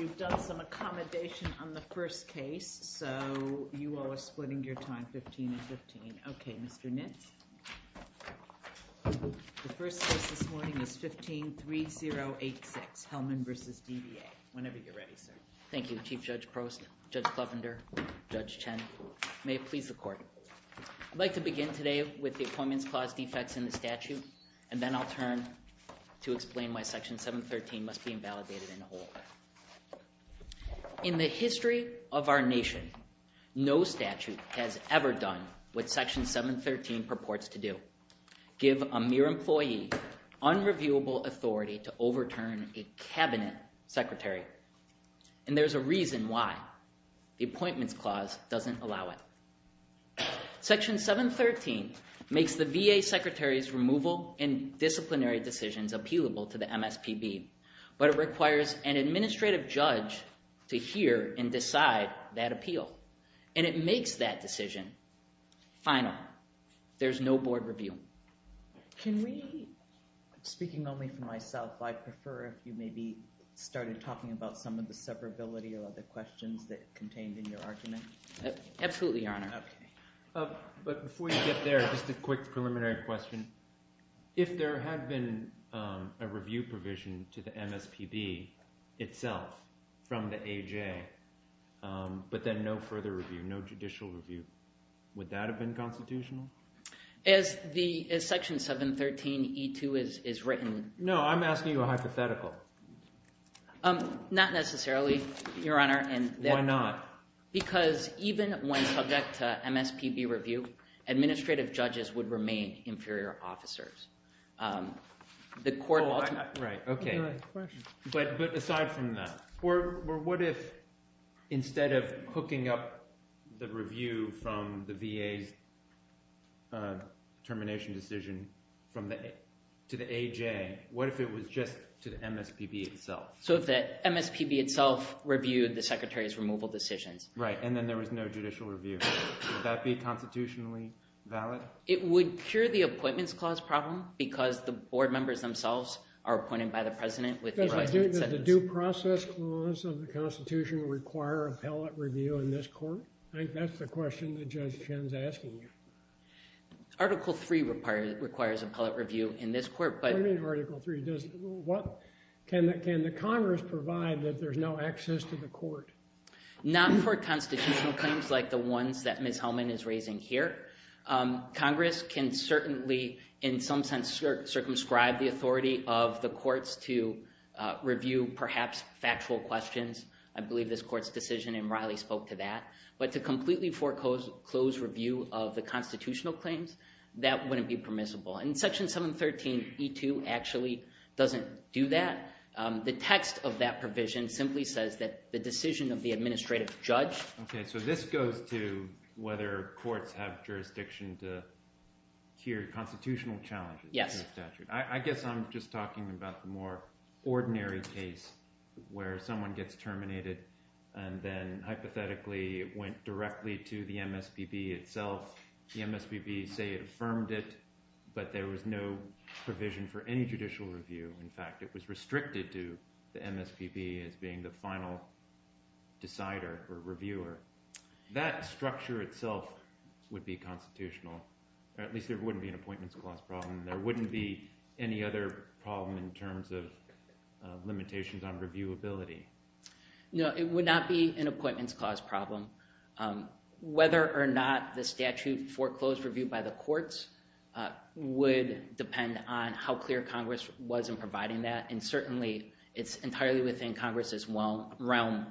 I'd like to begin today with the appointments clause defects in the statute, and then I'll turn to explain why Section 713 must be invalidated and hold. In the history of our nation, no statute has ever done what Section 713 purports to do, give a mere employee unreviewable authority to overturn a cabinet secretary, and there's a reason why. The appointments clause doesn't allow it. Section 713 makes the VA secretary's removal and disciplinary decisions appealable to the MSPB, but it requires an administrative judge to hear and decide that appeal, and it makes that decision final. There's no board review. Can we, speaking only for myself, I prefer if you maybe started talking about some of the separability or other questions that contained in your argument. Absolutely, Your Honor. Okay. But before you get there, just a quick preliminary question. If there had been a review provision to the MSPB itself from the AJA, but then no further review, no judicial review, would that have been constitutional? As Section 713E2 is written. No, I'm asking you a hypothetical. Not necessarily, Your Honor. Why not? Because even when subject to MSPB review, administrative judges would remain inferior officers. Right, okay. But aside from that, what if, instead of hooking up the review from the VA termination decision to the AJA, what if it was just to the MSPB itself? So if the MSPB itself reviewed the Secretary's removal decision. Right. And then there was no judicial review. Would that be constitutionally valid? It would cure the appointments clause problem, because the board members themselves are appointed by the President. Does the due process clause of the Constitution require appellate review in this court? I think that's the question that Judge Chin's asking you. Article 3 requires appellate review in this court, but... Does Congress provide that there's no access to the court? Not for constitutional claims like the ones that Ms. Hellman is raising here. Congress can certainly, in some sense, circumscribe the authority of the courts to review perhaps factual questions. I believe this court's decision in Raleigh spoke to that. But to completely foreclose review of the constitutional claims, that wouldn't be permissible. In Section 713E2 actually doesn't do that. The text of that provision simply says that the decision of the administrative judge... Okay. So this goes to whether courts have jurisdiction to hear constitutional challenges. Yes. I guess I'm just talking about the more ordinary case where someone gets terminated, and then hypothetically it went directly to the MSPB itself. The MSPB, say, affirmed it, but there was no provision for any judicial review. In fact, it was restricted to the MSPB as being the final decider or reviewer. That structure itself would be constitutional. At least there wouldn't be an appointments clause problem. There wouldn't be any other problem in terms of limitations on reviewability. No, it would not be an appointments clause problem. Whether or not the statute foreclosed review by the courts would depend on how clear Congress was in providing that. And certainly, it's entirely within Congress's realm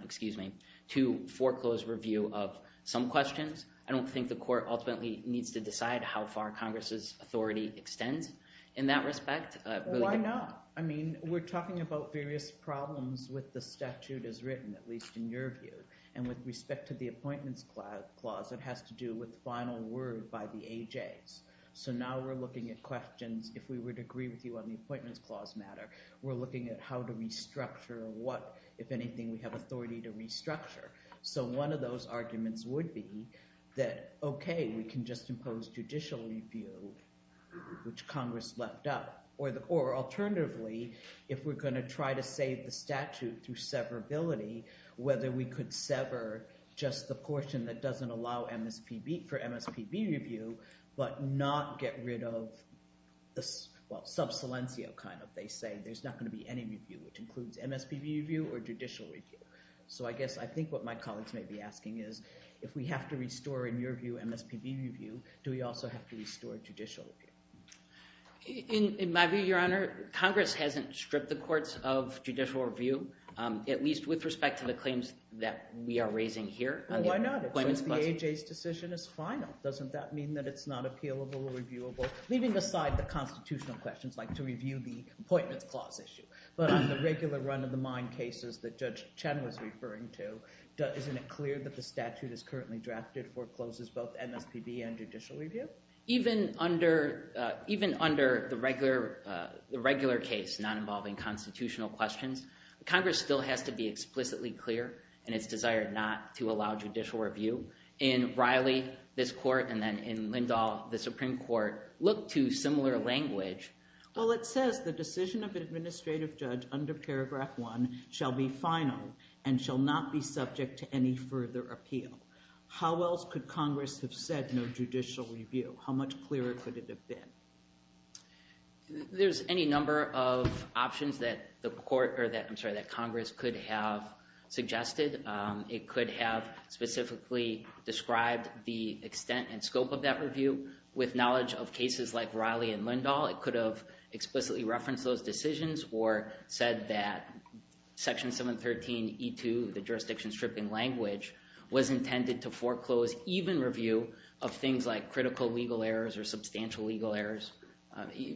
to foreclose review of some questions. I don't think the court ultimately needs to decide how far Congress's authority extends in that respect. Why not? I mean, we're talking about various problems with the statute as written, at least in your view. And with respect to the appointments clause, it has to do with final word by the AJs. So now we're looking at questions. If we would agree with you on the appointments clause matter, we're looking at how to restructure and what, if anything, we have authority to restructure. So one of those arguments would be that, okay, we can just impose judicial review, which Congress left up. Or alternatively, if we're going to try to save the statute through severability, whether we could sever just the portion that doesn't allow MSPB for MSPB review, but not get rid of, well, subsilentia, kind of, they say. There's not going to be any review, which includes MSPB review or judicial review. So I guess, I think what my colleagues may be asking is, if we have to restore, in your view, MSPB review, do we also have to restore judicial review? In my view, Your Honor, Congress hasn't stripped the courts of judicial review, at least with respect to the claims that we are raising here. Well, why not? If the AHA's decision is final, doesn't that mean that it's not appealable or reviewable? Leaving aside the constitutional questions, like to review the appointment clause issue. But on the regular run-of-the-mind cases that Judge Chen was referring to, isn't it clear that the statute is currently drafted or closes both MSPB and judicial review? Even under the regular case not involving constitutional questions, Congress still has to be explicitly clear in its desire not to allow judicial review. In Riley, this court, and then in Lindahl, the Supreme Court, look to similar language. Well, it says the decision of an administrative judge under paragraph 1 shall be final and shall not be subject to any further appeal. How else could Congress have said no judicial review? How much clearer could it have been? There's any number of options that Congress could have suggested. It could have specifically described the extent and scope of that review with knowledge of cases like Riley and Lindahl. It could have explicitly referenced those decisions or said that Section 713E2, the jurisdiction stripping language, was intended to foreclose even review of things like critical legal errors or substantial legal errors.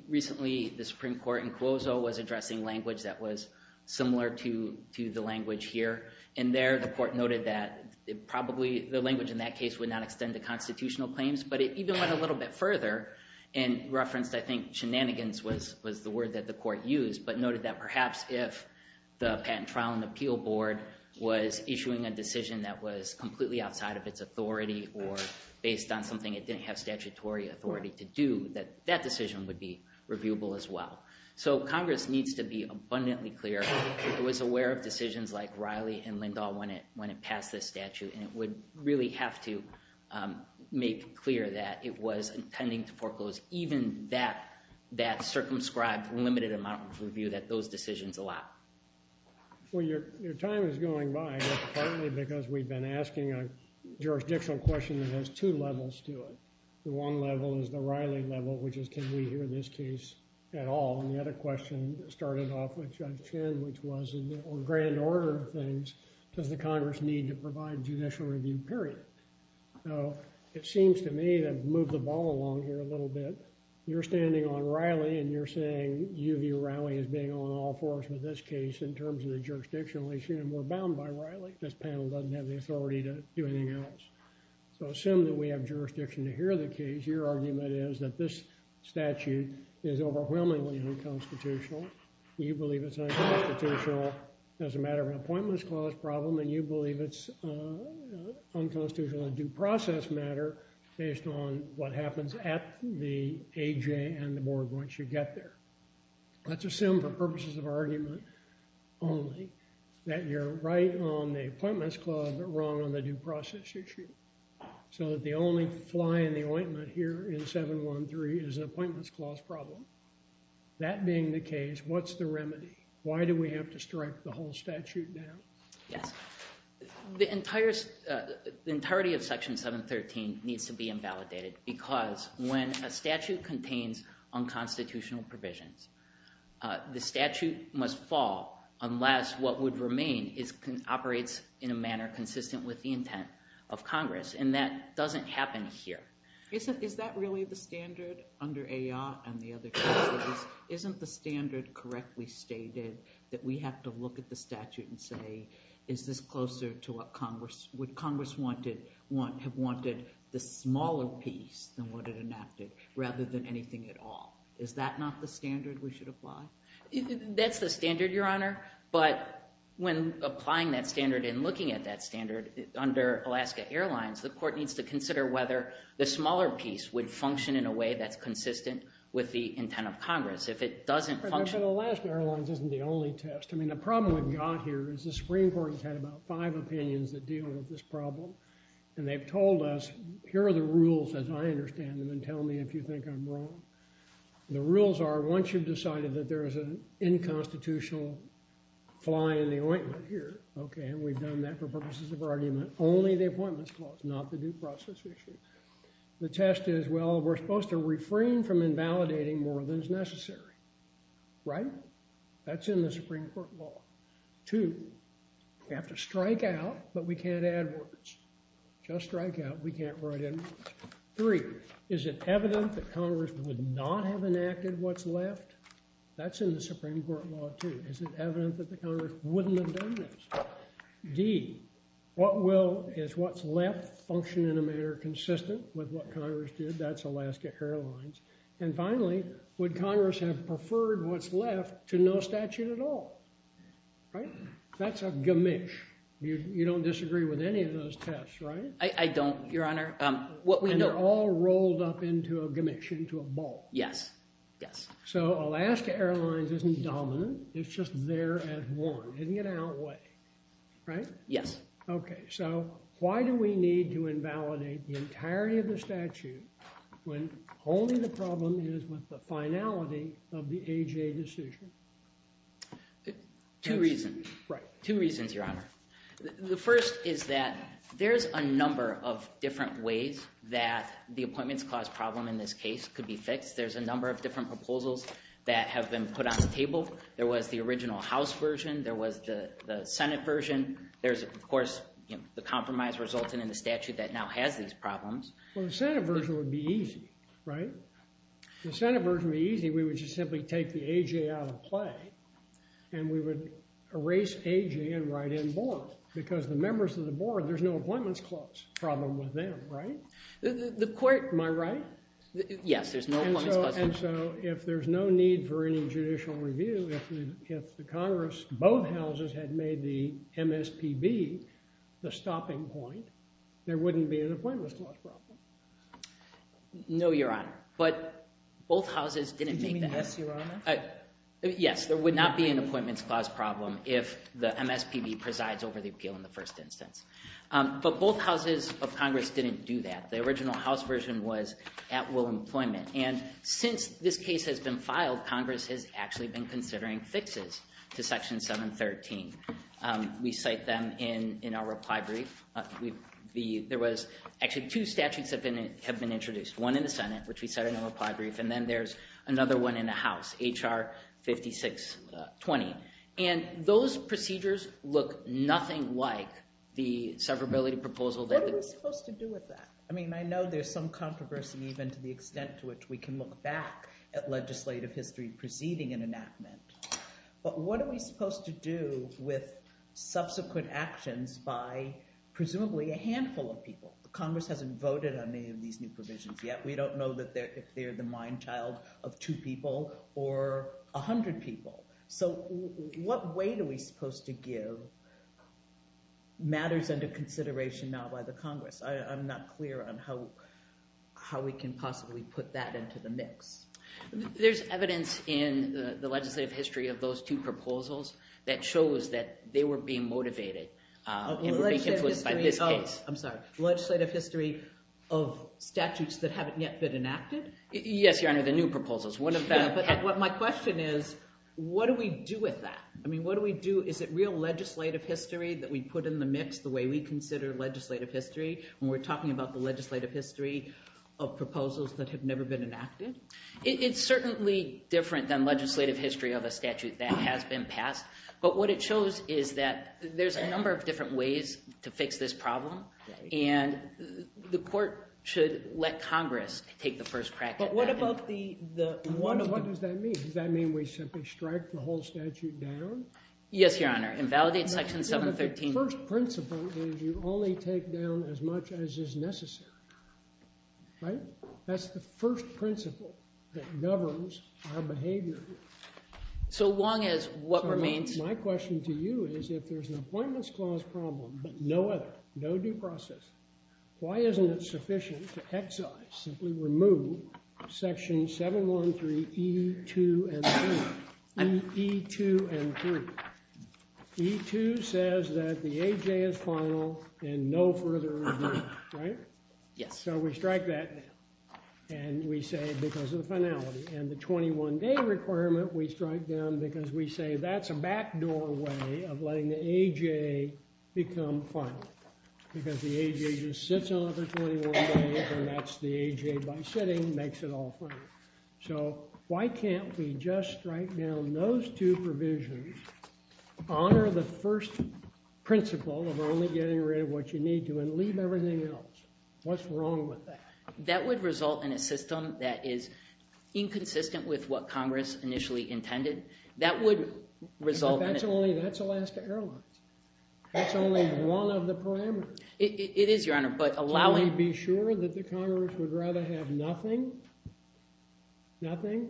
Recently, the Supreme Court in Clozo was addressing language that was similar to the language here. In there, the court noted that probably the language in that case would not extend to constitutional claims, but it even went a little bit further and referenced, I think, shenanigans was the word that the court used, but noted that perhaps if the patent trial and appeal board was issuing a decision that was completely outside of its authority or based on something it didn't have statutory authority to do, that that decision would be reviewable as well. So, Congress needs to be abundantly clear. It was aware of decisions like Riley and Lindahl when it passed this statute, and it would really have to make clear that it was intending to foreclose even that circumscribed limited amount of review that those decisions allowed. Well, your time is going by partly because we've been asking a jurisdictional question that has two levels to it. The one level is the Riley level, which is, can we hear this case at all? And the other question started off with Judge Chin, which was, in the grand order of things, does the Congress need to provide judicial review, period? So, it seems to me that I've moved the ball along here a little bit. You're standing on Riley, and you're saying you view Riley as being on all fours with this case in terms of the jurisdictional issue, and we're bound by Riley. This panel doesn't have the authority to do anything else. So, assume that we have jurisdiction to hear the case. Your argument is that this statute is overwhelmingly unconstitutional. You believe it's unconstitutional as a matter of an Appointments Clause problem, and you believe it's unconstitutional in a due process matter based on what happens at the A.J. and the Board once you get there. Let's assume for purposes of argument only that you're right on the Appointments Clause, but wrong on the due process issue, so that the only fly in the ointment here in 713 is an Appointments Clause problem. That being the case, what's the remedy? Why do we have to strike the whole statute down? The entirety of Section 713 needs to be invalidated, because when a statute contains unconstitutional provision, the statute must fall unless what would remain operates in a manner consistent with the intent of Congress, and that doesn't happen here. Is that really the standard under A.R. and the other cases? Isn't the standard correctly stated that we have to look at the statute and say, is this closer to what Congress would have wanted, the smaller piece than what it enacted, rather than anything at all? Is that not the standard we should apply? That's the standard, Your Honor, but when applying that standard and looking at that standard under Alaska Airlines, the Court needs to consider whether the smaller piece would function in a way that's consistent with the intent of Congress. If it doesn't function… But Alaska Airlines isn't the only test. I mean, the problem we've got here is the Supreme Court has had about five opinions that deal with this problem, and they've told us, here are the rules as I understand them, and tell me if you think I'm wrong. The rules are, once you've decided that there's an inconstitutional fly in the ointment here, okay, and we've done that for purposes of argument, only the appointments clause, not the due process. The test is, well, we're supposed to refrain from invalidating more than is necessary, right? That's in the Supreme Court law. Two, we have to strike out, but we can't add words. Just strike out, we can't write anything. Three, is it evident that Congress would not have enacted what's left? That's in the Supreme Court law too. Is it evident that the Congress wouldn't have done this? D, what will, is what's left function in a manner consistent with what Congress did? That's Alaska Airlines. And finally, would Congress have preferred what's left to no statute at all? Right? That's a gamish. You don't disagree with any of those tests, right? I don't, Your Honor. They're all rolled up into a gamish, into a ball. Yes, yes. So Alaska Airlines isn't dominant, it's just there as one, in and out way, right? Yes. Okay, so why do we need to invalidate the entirety of the statute when only the problem is with the finality of the AJA decision? Two reasons. Right. Two reasons, Your Honor. The first is that there's a number of different ways that the appointments caused problem in this case could be fixed. There's a number of different proposals that have been put on the table. There was the original House version. There was the Senate version. There's, of course, the compromise resulting in the statute that now has these problems. The Senate version would be easy, right? The Senate version would be easy. We would just simply take the AJA out of play, and we would erase AJA and write in board. Because the members of the board, there's no appointments clause problem with them, right? The court... Am I right? Yes, there's no... And so if there's no need for any judicial review, if the Congress, both houses, had made the MSPB the stopping point, there wouldn't be an appointments clause problem. No, Your Honor. But both houses didn't take that. You mean that, Your Honor? Yes, there would not be an appointments clause problem if the MSPB presides over the appeal in the first instance. But both houses of Congress didn't do that. The original House version was at will employment. And since this case has been filed, Congress has actually been considering fixes to Section 713. We cite them in our reply brief. There was actually two statutes that have been introduced. One in the Senate, which we cite in our reply brief, and then there's another one in the House, H.R. 5620. And those procedures look nothing like the severability proposal that... What are we supposed to do with that? I mean, I know there's some controversy even to the extent to which we can look back at legislative history preceding an enactment. But what are we supposed to do with subsequent actions by presumably a handful of people? Congress hasn't voted on any of these new provisions yet. We don't know if they're the mine child of two people or a hundred people. So what weight are we supposed to give matters under consideration not by the Congress? I'm not clear on how we can possibly put that into the mix. There's evidence in the legislative history of those two proposals that shows that they were being motivated. I'm sorry. Legislative history of statutes that haven't yet been enacted? Yes, Your Honor, the new proposals. My question is, what do we do with that? I mean, what do we do? Is it real legislative history that we put in the mix the way we consider legislative history when we're talking about the legislative history of proposals that have never been enacted? It's certainly different than legislative history of a statute that has been passed. But what it shows is that there's a number of different ways to fix this problem. And the court should let Congress take the first crack at it. But what about the... What does that mean? Does that mean we simply strike the whole statute down? Yes, Your Honor. In validating Section 713... But the first principle is you only take down as much as is necessary. Right? That's the first principle that governs our behavior. So long as what remains... My question to you is if there's an Appointments Clause problem, but no other, no due process, why isn't it sufficient to excise, simply remove, Section 713E2M3? E2M3. E2 says that the AJ is final and no further review. Right? Yes. So we strike that down. And we say because of the finality. And the 21-day requirement, we strike down because we say that's a backdoor one way of letting the AJ become final. Because the AJ just sits on it for 21 days, and that's the AJ by sitting makes it all final. So why can't we just strike down those two provisions, honor the first principle of only getting rid of what you need to, and leave everything else? What's wrong with that? That would result in a system that is inconsistent with what Congress initially intended. That would result in... But that's only, that's the last arrow. That's only one of the parameters. It is, Your Honor, but allowing... Can we be sure that the Congress would rather have nothing, nothing,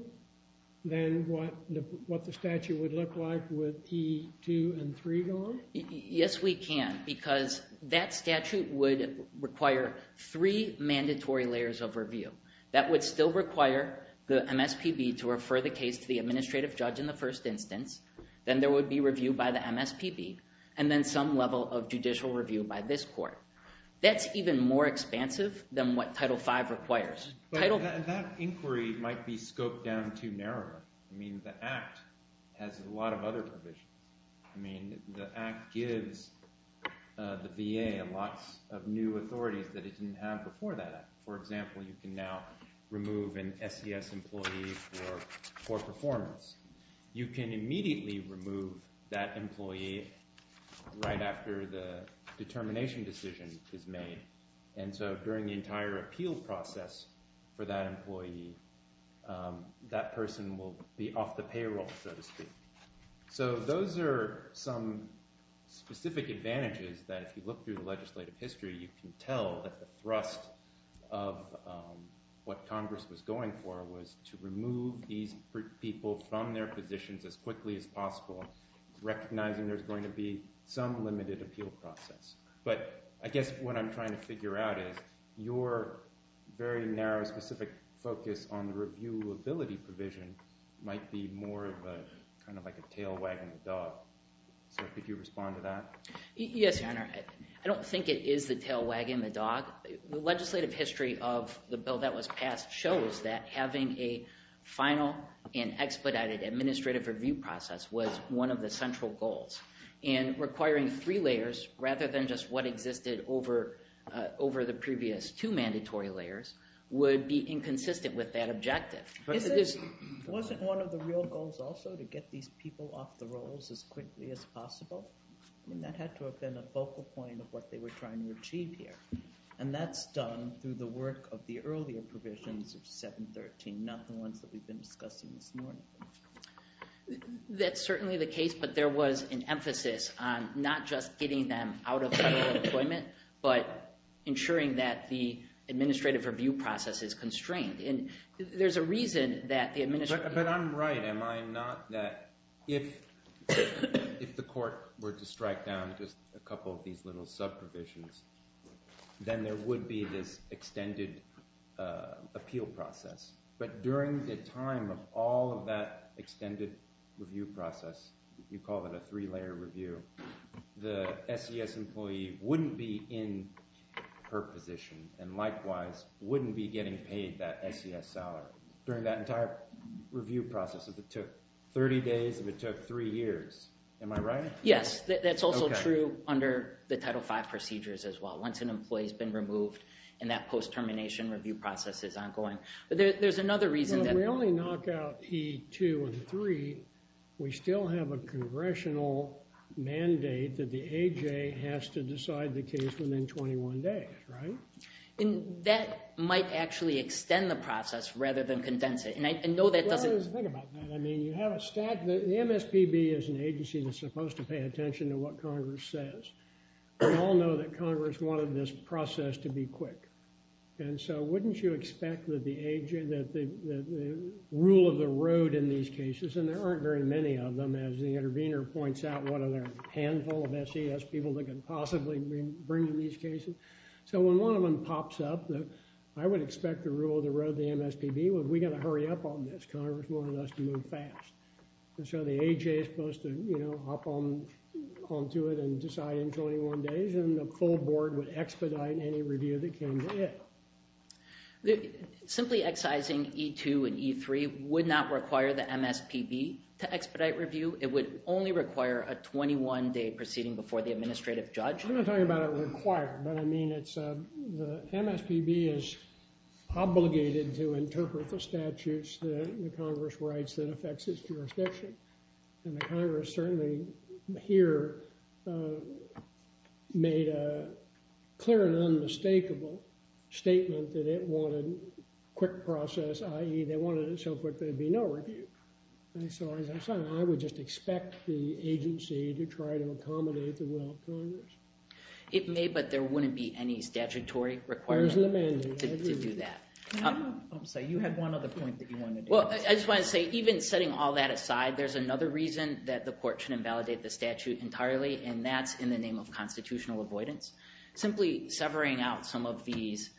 than what the statute would look like with E2M3 gone? Yes, we can. Because that statute would require three mandatory layers of review. That would still require the MSPB to refer the case to the administrative judge in the first instance. Then there would be review by the MSPB. And then some level of judicial review by this court. That's even more expansive than what Title V requires. But that inquiry might be scoped down too narrow. I mean, the Act has a lot of other provisions. I mean, the Act gives the VA a lot of new authorities that it didn't have before that Act. For example, you can now remove an FCS employee for poor performance. You can immediately remove that employee right after the determination decision is made. And so during the entire appeal process for that employee, that person will be off the payroll, so to speak. So those are some specific advantages that if you look through the legislative history, you can tell that the thrust of what Congress was going for was to remove these people from their positions as quickly as possible, recognizing there's going to be some limited appeal process. But I guess what I'm trying to figure out is your very narrow, specific focus on reviewability provision might be more of a kind of like a tail wagging the dog. Could you respond to that? Yes, Your Honor. I don't think it is a tail wagging the dog. The legislative history of the bill that was passed shows that having a final and expedited administrative review process was one of the central goals. And requiring three layers rather than just what existed over the previous two mandatory layers would be inconsistent with that objective. Wasn't one of the real goals also to get these people off the rolls as quickly as possible? I mean, that had to have been a focal point of what they were trying to achieve here. And that's done through the work of the earlier provisions of 713, not the ones that we've been discussing. That's certainly the case. But there was an emphasis on not just getting them out of federal employment, but ensuring that the administrative review process is constrained. And there's a reason that the administration… But I'm right, am I not, that if the court were to strike down just a couple of these little subdivisions, then there would be this extended appeal process. But during the time of all of that extended review process, you call that a three-layer review, the SES employee wouldn't be in her position and likewise wouldn't be getting paid that SES dollar. During that entire review process, if it took 30 days, if it took three years, am I right? Yes, that's also true under the Title V procedures as well. Once an employee has been removed and that post-termination review process is ongoing. But there's another reason that… If we only knock out E2 and E3, we still have a congressional mandate that the AJ has to decide the case within 21 days, right? And that might actually extend the process rather than condense it. Well, there's a bit about that. I mean, you have a stat that the MSPB is an agency that's supposed to pay attention to what Congress says. We all know that Congress wanted this process to be quick. And so wouldn't you expect that the rule of the road in these cases, and there aren't very many of them, as the intervener points out, what are the handful of SES people that can possibly bring to these cases. So when one of them pops up, I would expect the rule of the road of the MSPB was we got to hurry up on this. Congress wanted us to move fast. And so the AJ is supposed to hop on to it and decide in 21 days, and the full board would expedite any review that came to it. Simply excising E2 and E3 would not require the MSPB to expedite review. It would only require a 21-day proceeding before the administrative judge. I'm not talking about it required, but I mean the MSPB is obligated to interpret the statutes that Congress writes that affects its jurisdiction. And Congress certainly here made a clear and unmistakable statement that it wanted a quick process, i.e. they wanted it so quick there would be no review. So I would just expect the agency to try to accommodate the rule of the road? It may, but there wouldn't be any statutory requirement to do that. You had one other point that you wanted to make. Well, I just wanted to say, even setting all that aside, there's another reason that the court shouldn't validate the statute entirely, and that's in the name of constitutional avoidance. Simply severing out some of these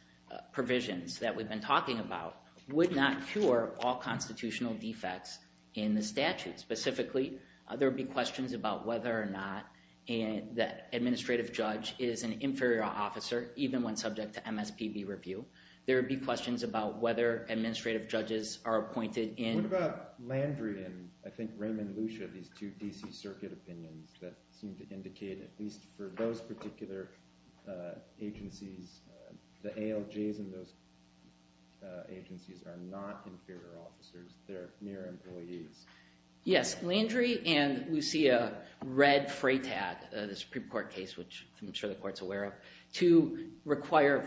provisions that we've been talking about would not cure all constitutional defects in the statute. Specifically, there would be questions about whether or not the administrative judge is an inferior officer, even when subject to MSPB review. There would be questions about whether administrative judges are appointed in… …at least for those particular agencies, the ALJs in those agencies are not inferior officers, they're mere employees. Yes, Landry and Lucia read FRAPAT, the Supreme Court case, which I'm sure the court's aware of, to require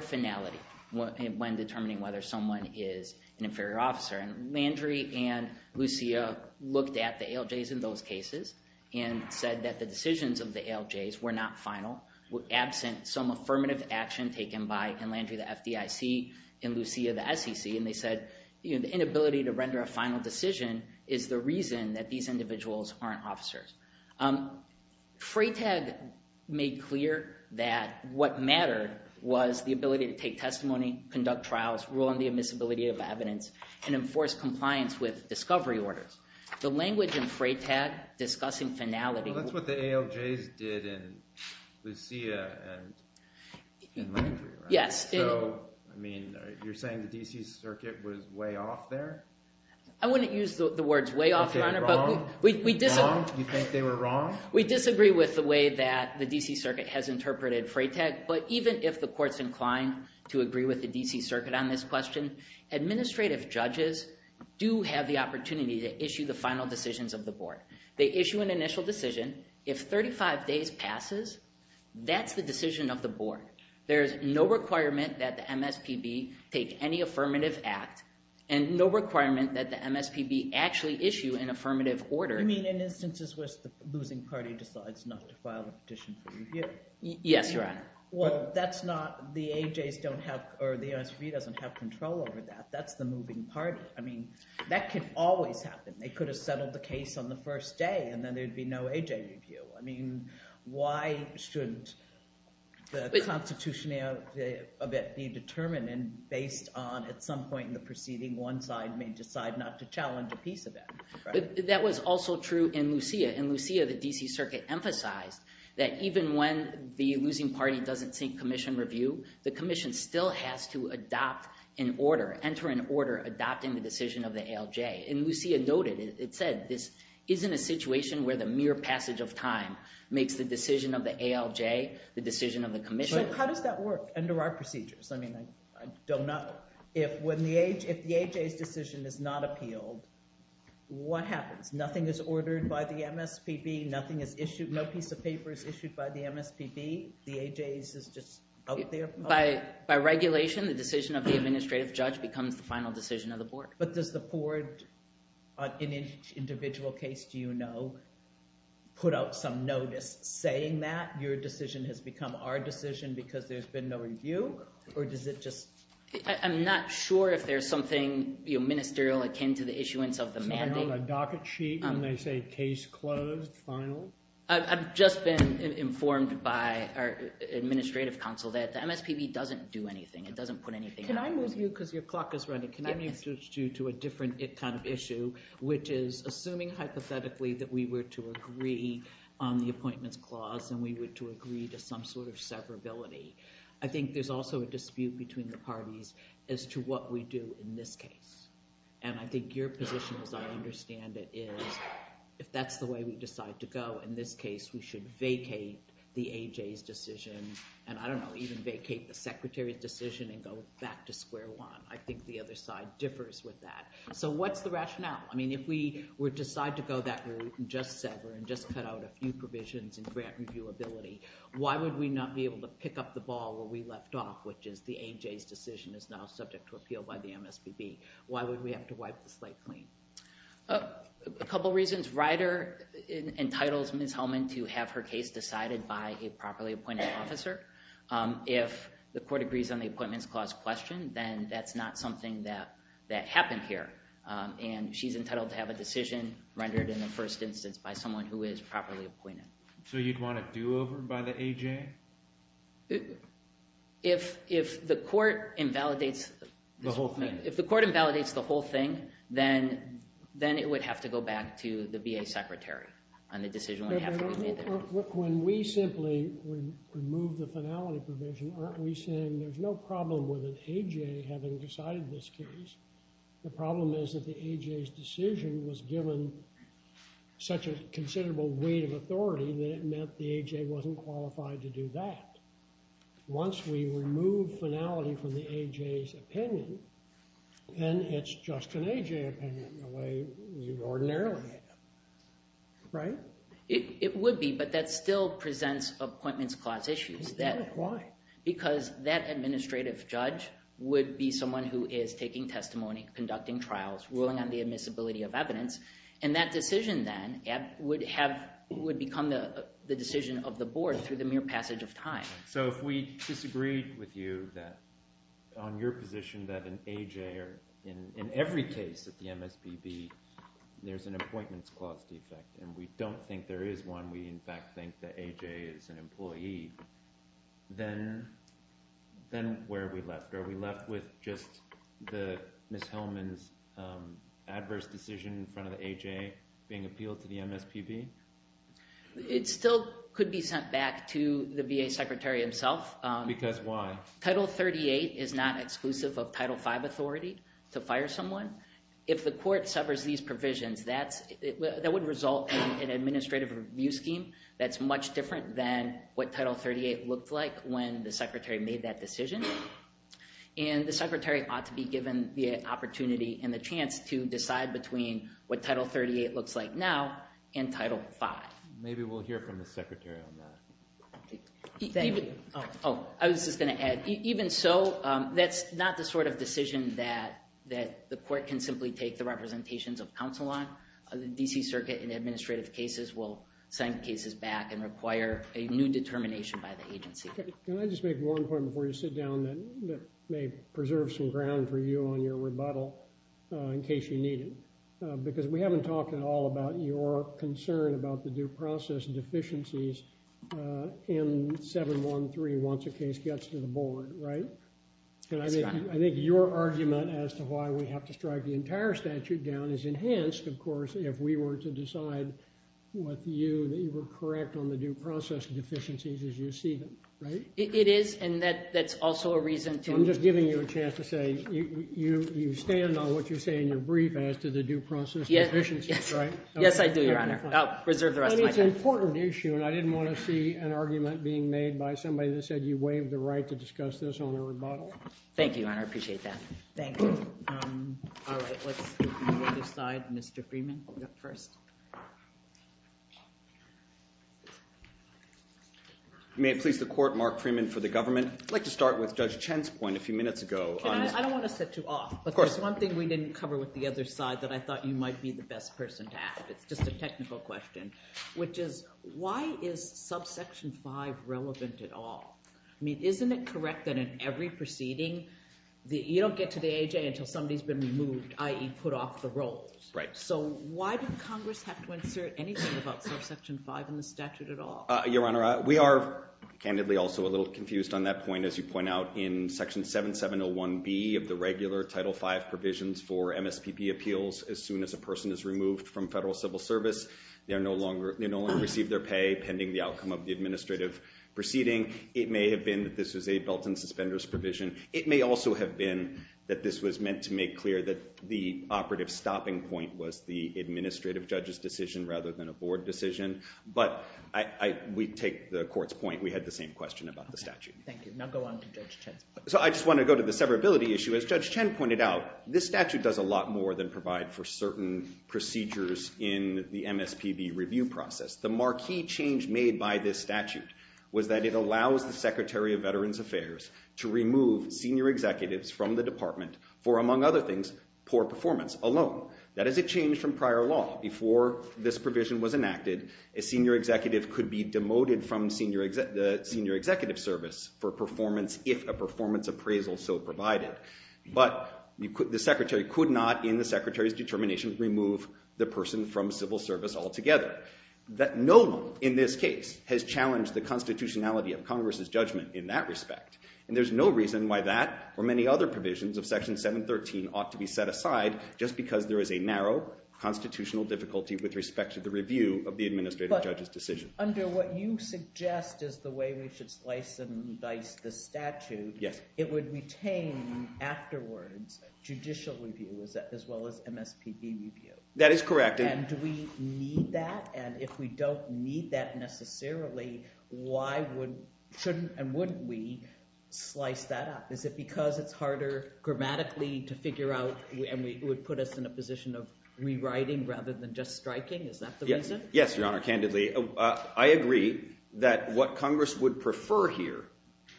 finality when determining whether someone is an inferior officer. Landry and Lucia looked at the ALJs in those cases and said that the decisions of the ALJs were not final, were absent some affirmative action taken by Landry, the FDIC, and Lucia, the SEC. And they said the inability to render a final decision is the reason that these individuals aren't officers. FRAPAT made clear that what mattered was the ability to take testimony, conduct trials, rule on the admissibility of evidence, and enforce compliance with discovery orders. The language in FRAPAT discussing finality… Well, that's what the ALJs did in Lucia and in Landry, right? Yes. So, I mean, you're saying the D.C. Circuit was way off there? I wouldn't use the words way off there, but… Was it wrong? You think they were wrong? We disagree with the way that the D.C. Circuit has interpreted FRAPAT, but even if the court's inclined to agree with the D.C. Circuit on this question, administrative judges do have the opportunity to issue the final decisions of the board. They issue an initial decision. If 35 days passes, that's the decision of the board. There's no requirement that the MSPB take any affirmative act and no requirement that the MSPB actually issue an affirmative order. I mean, in instances where the losing party decides not to file a petition for review. Yes, you're right. Well, that's not – the AJs don't have – or the SB doesn't have control over that. That's the moving party. I mean, that could always happen. They could have settled the case on the first day, and then there'd be no AJ review. I mean, why shouldn't the constitutionality of it be determined and based on at some point in the proceeding, one side may decide not to challenge a piece of that? That was also true in Lucia. In Lucia, the D.C. Circuit emphasized that even when the losing party doesn't take commission review, the commission still has to adopt an order, enter an order adopting the decision of the ALJ. In Lucia noted, it said this isn't a situation where the mere passage of time makes the decision of the ALJ the decision of the commission. But how does that work under our procedures? I mean, I don't know. If the AJ's decision is not appealed, what happens? Nothing is ordered by the MSPB. Nothing is issued. No piece of paper is issued by the MSPB. The AJ's is just out there. By regulation, the decision of the administrative judge becomes the final decision of the board. But does the board in each individual case, do you know, put out some notice saying that your decision has become our decision because there's been no review? I'm not sure if there's something ministerial akin to the issuance of the mandate. A docket sheet when they say case closed, final? I've just been informed by our administrative counsel that the MSPB doesn't do anything. It doesn't put anything out there. Can I move you, because your clock is running, can I move you to a different kind of issue, which is assuming hypothetically that we were to agree on the appointment clause and we were to agree to some sort of severability. I think there's also a dispute between the parties as to what we do in this case. And I think your position, as I understand it, is if that's the way we decide to go in this case, we should vacate the AJ's decision. And I don't know, even vacate the secretary's decision and go back to square one. I think the other side differs with that. So what's the rationale? I mean, if we were to decide to go that route and just sever and just cut out a few provisions and grant reviewability, why would we not be able to pick up the ball where we left off, which is the AJ's decision is now subject to appeal by the MSPB? Why would we have to wipe the slate clean? A couple reasons. Ryder entitles Ms. Holman to have her case decided by a properly appointed officer. If the court agrees on the appointment clause question, then that's not something that happens here. And she's entitled to have a decision rendered in the first instance by someone who is properly appointed. So you'd want a do-over by the AJ? If the court invalidates the whole thing, then it would have to go back to the VA secretary on the decision. When we simply remove the finality provision, aren't we saying there's no problem with an AJ having decided this case? The problem is that the AJ's decision was given such a considerable weight of authority that it meant the AJ wasn't qualified to do that. Once we remove finality from the AJ's opinion, then it's just an AJ opinion in the way we ordinarily have. Right? It would be, but that still presents appointments clause issues. Why? Because that administrative judge would be someone who is taking testimony, conducting trials, ruling on the admissibility of evidence, and that decision then would become the decision of the board through the mere passage of time. So if we disagreed with you on your position that an AJ, or in every case of the MSDB, there's an appointments clause defect, and we don't think there is one, we in fact think the AJ is an employee, then where are we left? Are we left with just Ms. Hellman's adverse decision in front of the AJ being appealed to the MSDB? It still could be sent back to the VA secretary himself. Because why? Title 38 is not exclusive of Title 5 authority to fire someone. If the court suffers these provisions, that would result in an administrative review scheme that's much different than what Title 38 looked like when the secretary made that decision. And the secretary ought to be given the opportunity and the chance to decide between what Title 38 looks like now and Title 5. Maybe we'll hear from the secretary on that. Oh, I was just going to add, even so, that's not the sort of decision that the court can simply take the representations of counsel on. The D.C. Circuit in administrative cases will send cases back and require a new determination by the agency. Can I just make one point before you sit down that may preserve some ground for you on your rebuttal in case you need it? Because we haven't talked at all about your concern about the due process deficiencies in 713 once a case gets to the board, right? And I think your argument as to why we have to strike the entire statute down is enhanced, of course, if we were to decide with you that you were correct on the due process deficiencies as you see them, right? It is, and that's also a reason to... You stand on what you say in your brief as to the due process deficiencies, right? Yes, I do, Your Honor. I'll preserve the rest of my time. But it's an important issue, and I didn't want to see an argument being made by somebody that said you waived the right to discuss this on your rebuttal. Thank you, Your Honor. I appreciate that. Thank you. All right, let's move on to the side, Mr. Freeman. May it please the Court, Mark Freeman for the government. I'd like to start with Judge Chen's point a few minutes ago. I don't want to set you off. Of course. There's one thing we didn't cover with the other side that I thought you might be the best person to ask. It's just a technical question, which is why is subsection 5 relevant at all? I mean, isn't it correct that in every proceeding, you don't get to the A.J. until somebody's been removed, i.e. put off the role? Right. So why does Congress have to insure anything about subsection 5 in the statute at all? Your Honor, we are candidly also a little confused on that point. As you point out, in Section 7701B of the regular Title V provisions for MSPP appeals, as soon as a person is removed from federal civil service, they no longer receive their pay pending the outcome of the administrative proceeding. It may have been that this was a belt and suspenders provision. It may also have been that this was meant to make clear that the operative stopping point was the administrative judge's decision rather than a board decision. But we take the Court's point. We had the same question about the statute. Thank you. Now go on to Judge Chen. So I just want to go to the severability issue. As Judge Chen pointed out, this statute does a lot more than provide for certain procedures in the MSPB review process. The marquee change made by this statute was that it allows the Secretary of Veterans Affairs to remove senior executives from the department for, among other things, poor performance alone. That is a change from prior law. Before this provision was enacted, a senior executive could be demoted from senior executive service for performance if a performance appraisal so provided. But the Secretary could not, in the Secretary's determinations, remove the person from civil service altogether. That note, in this case, has challenged the constitutionality of Congress's judgment in that respect. And there's no reason why that or many other provisions of Section 713 ought to be set aside just because there is a narrow constitutional difficulty with respect to the review of the administrative judge's decision. But under what you suggest is the way we should slice and dice the statute, it would retain afterwards judicial review as well as MSPB review. That is correct. And do we need that? And if we don't need that necessarily, why wouldn't and wouldn't we slice that up? Is it because it's harder grammatically to figure out and it would put us in a position of rewriting rather than just striking? Is that the reason? Yes, Your Honor, candidly. I agree that what Congress would prefer here,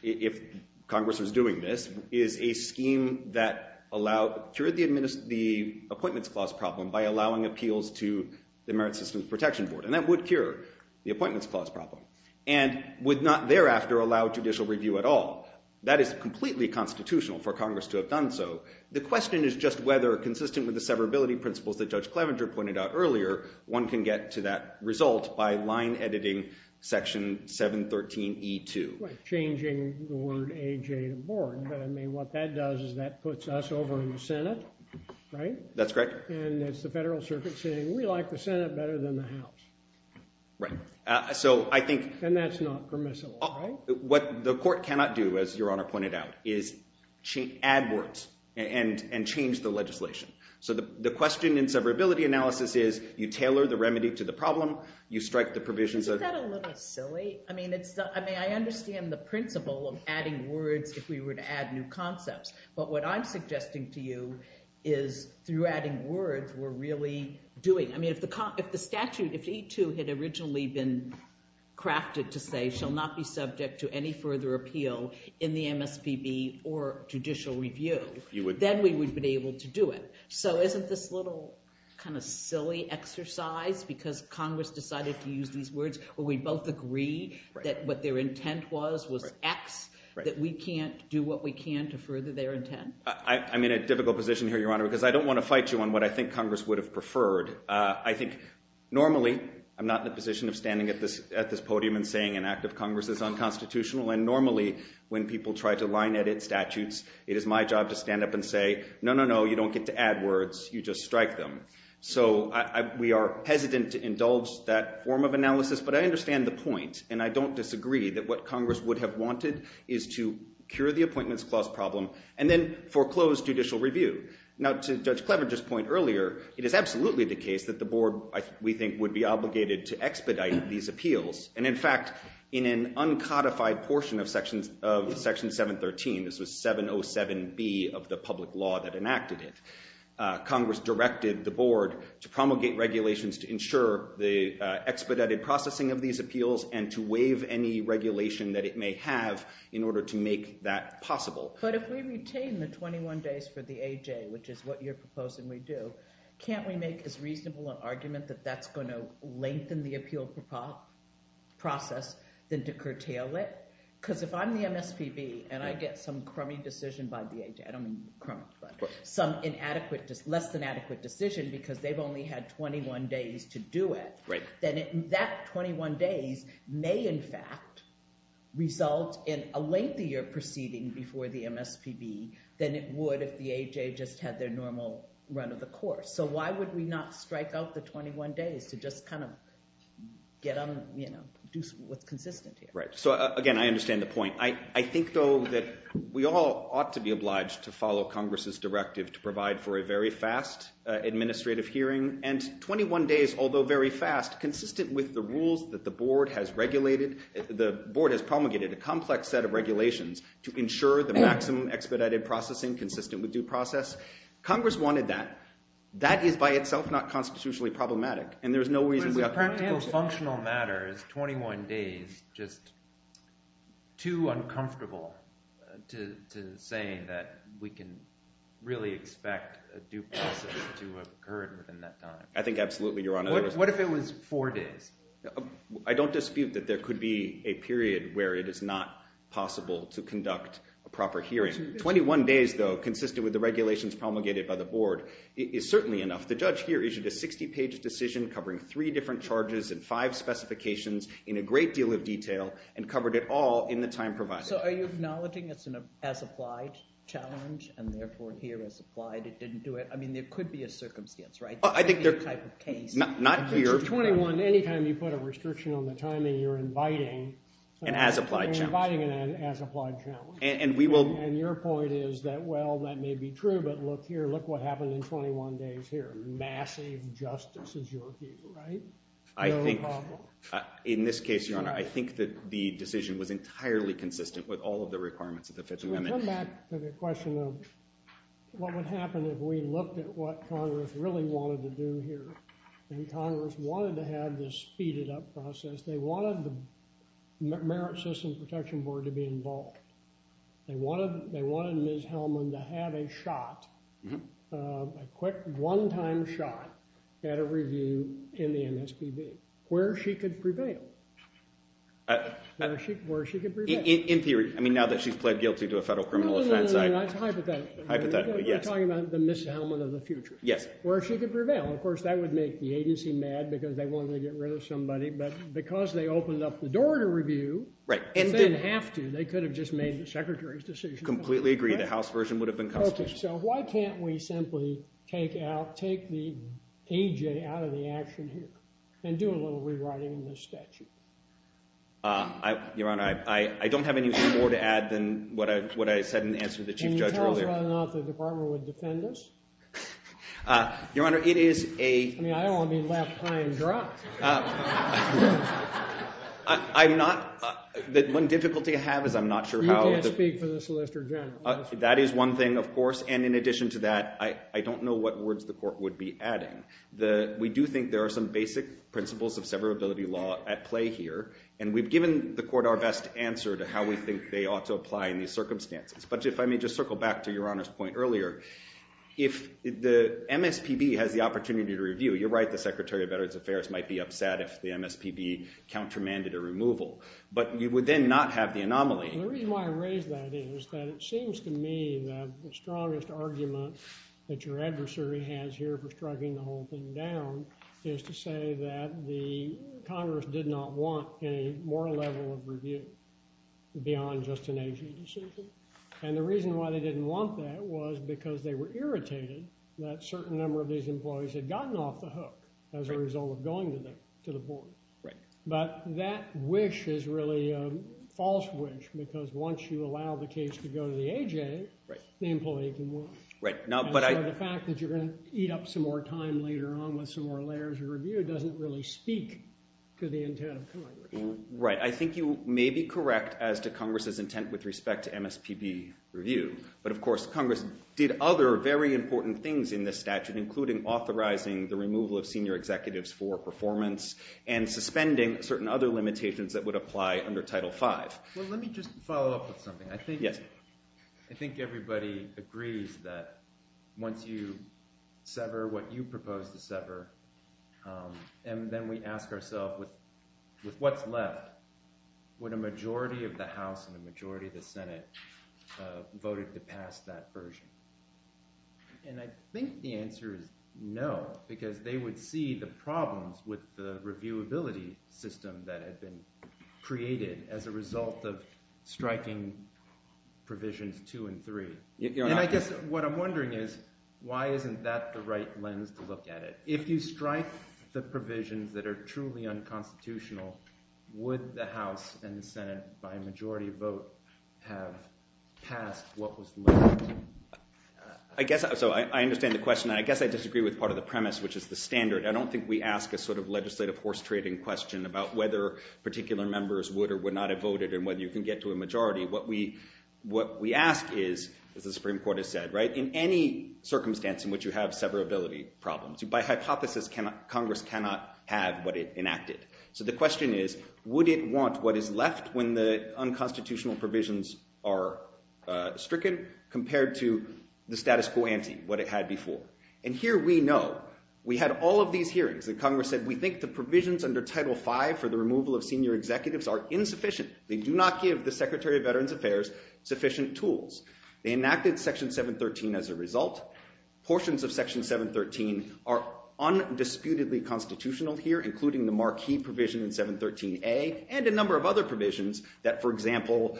if Congress was doing this, is a scheme that allowed the appointments clause problem by allowing appeals to the Merit Systems Protection Board. And that would cure the appointments clause problem and would not thereafter allow judicial review at all. That is completely constitutional for Congress to have done so. The question is just whether, consistent with the severability principles that Judge Klaminger pointed out earlier, one can get to that result by line editing Section 713E2. Changing the word AJ Board, but I mean what that does is that puts us over in the Senate, right? That's correct. And it's the Federal Circuit saying we like the Senate better than the House. Right. And that's not permissible, right? What the court cannot do, as Your Honor pointed out, is add words and change the legislation. So the question in severability analysis is you tailor the remedy to the problem, you strike the provisions of— Isn't that a little bit silly? I mean I understand the principle of adding words if we were to add new concepts. But what I'm suggesting to you is through adding words we're really doing. I mean if the statute, if E2 had originally been crafted to say shall not be subject to any further appeal in the MSPB or judicial review, then we would have been able to do it. So isn't this a little kind of silly exercise because Congress decided to use these words? We both agree that what their intent was was X, that we can't do what we can to further their intent. I'm in a difficult position here, Your Honor, because I don't want to fight you on what I think Congress would have preferred. I think normally I'm not in a position of standing at this podium and saying an act of Congress is unconstitutional. And normally when people try to line edit statutes it is my job to stand up and say no, no, no, you don't get to add words, you just strike them. So we are hesitant to indulge that form of analysis. But I understand the point and I don't disagree that what Congress would have wanted is to cure the appointments clause problem. And then foreclose judicial review. Now to Judge Fletcher's point earlier, it is absolutely the case that the board, we think, would be obligated to expedite these appeals. And in fact, in an uncodified portion of Section 713, this is 707B of the public law that enacted it, Congress directed the board to promulgate regulations to ensure the expedited processing of these appeals and to waive any regulation that it may have in order to make that possible. But if we retain the 21 days for the AJ, which is what you're proposing we do, can't we make the reasonable argument that that's going to lengthen the appeals process than to curtail it? Because if I'm the MSPB and I get some crummy decision by the AJ – I don't mean crummy, but some inadequate, less than adequate decision because they've only had 21 days to do it, then that 21 days may in fact result in a lengthier proceeding before the MSPB than it would if the AJ just had their normal run of the course. So why would we not strike out the 21 days to just kind of get them to do what's consistent here? Right. So again, I understand the point. I think, though, that we all ought to be obliged to follow Congress's directive to provide for a very fast administrative hearing. And 21 days, although very fast, consistent with the rules that the board has promulgated, a complex set of regulations to ensure the maximum expedited processing consistent with due process, Congress wanted that. That is by itself not constitutionally problematic. But the practical, functional matter is 21 days just too uncomfortable to saying that we can really expect a due process to occur within that time. I think absolutely, Your Honor. What if it was four days? I don't dispute that there could be a period where it is not possible to conduct a proper hearing. 21 days, though, consistent with the regulations promulgated by the board is certainly enough. The judge here issued a 60-page decision covering three different charges and five specifications in a great deal of detail and covered it all in the time provided. So are you acknowledging it's an as-applied challenge and therefore here it's applied, it didn't do it? I mean, there could be a circumstance, right? Not here. For 21, any time you put a restriction on the timing, you're inviting an as-applied challenge. You're inviting an as-applied challenge. And your point is that, well, that may be true, but look here, look what happened in 21 days here. Massive justice is your view, right? I think in this case, Your Honor, I think that the decision was entirely consistent with all of the requirements of the fits and limits. I come back to the question of what would happen if we looked at what Congress really wanted to do here. And Congress wanted to have this speeded-up process. They wanted the Merit Systems Protection Board to be involved. They wanted Ms. Hellman to have a shot, a quick one-time shot at a review in the MSPB. Where she could prevail. Where she could prevail. In theory. I mean, now that she's pled guilty to a federal criminal offense. No, no, no, no. Hypothetically. Hypothetically, yes. You're talking about the Ms. Hellman of the future. Yes. Where she could prevail. Of course, that would make the agency mad because they wanted to get rid of somebody. But because they opened up the door to review. Right. And they didn't have to. They could have just made the Secretary's decision. Completely agree. The House version would have been consistent. So why can't we simply take out, take the EJ out of the action here and do a little rewriting of the statute? Your Honor, I don't have anything more to add than what I said in answer to the Chief Judge earlier. Can you tell us why not the Department of Defendants? Your Honor, it is a... I mean, I don't want to be left high and dry. I'm not... The one difficulty I have is I'm not sure how... You can't speak to this, Mr. General. That is one thing, of course. And in addition to that, I don't know what words the Court would be adding. We do think there are some basic principles of severability law at play here. And we've given the Court our best answer to how we think they ought to apply in these circumstances. But if I may just circle back to Your Honor's point earlier. If the MSPB has the opportunity to review, you're right, the Secretary of Veterans Affairs might be upset if the MSPB countermanded a removal. But you would then not have the anomaly. The reason why I raise that is that it seems to me that the strongest argument that your adversary has here for striking the whole thing down is to say that the Congress did not want a moral level of review beyond just an agency decision. And the reason why they didn't want that was because they were irritated that a certain number of these employees had gotten off the hook as a result of going to the board. But that wish is really a false wish because once you allow the case to go to the AJ, the employee can watch. And the fact that you're going to eat up some more time later on with some more layers of review doesn't really speak to the intent of Congress. Right. I think you may be correct as to Congress's intent with respect to MSPB review. But, of course, Congress did other very important things in this statute, including authorizing the removal of senior executives for performance and suspending certain other limitations that would apply under Title V. Well, let me just follow up with something. I think everybody agrees that once you sever what you propose to sever, and then we ask ourselves with what's left, would a majority of the House and a majority of the Senate vote to pass that version? And I think the answer is no because they would see the problems with the reviewability system that has been created as a result of striking provisions two and three. And I guess what I'm wondering is why isn't that the right lens to look at it? If you strike the provisions that are truly unconstitutional, would the House and the Senate, by a majority vote, have passed what was left? So I understand the question. I guess I disagree with part of the premise, which is the standard. I don't think we ask a sort of legislative horse-trading question about whether particular members would or would not have voted and whether you can get to a majority. What we ask is, as the Supreme Court has said, in any circumstance in which you have severability problems, by hypothesis, Congress cannot have what it enacted. So the question is, would it want what is left when the unconstitutional provisions are stricken compared to the status quo ante, what it had before? And here we know. We had all of these hearings. Congress said, we think the provisions under Title V for the removal of senior executives are insufficient. They do not give the Secretary of Veterans Affairs sufficient tools. They enacted Section 713 as a result. Portions of Section 713 are undisputedly constitutional here, including the marquee provision in 713A and a number of other provisions that, for example,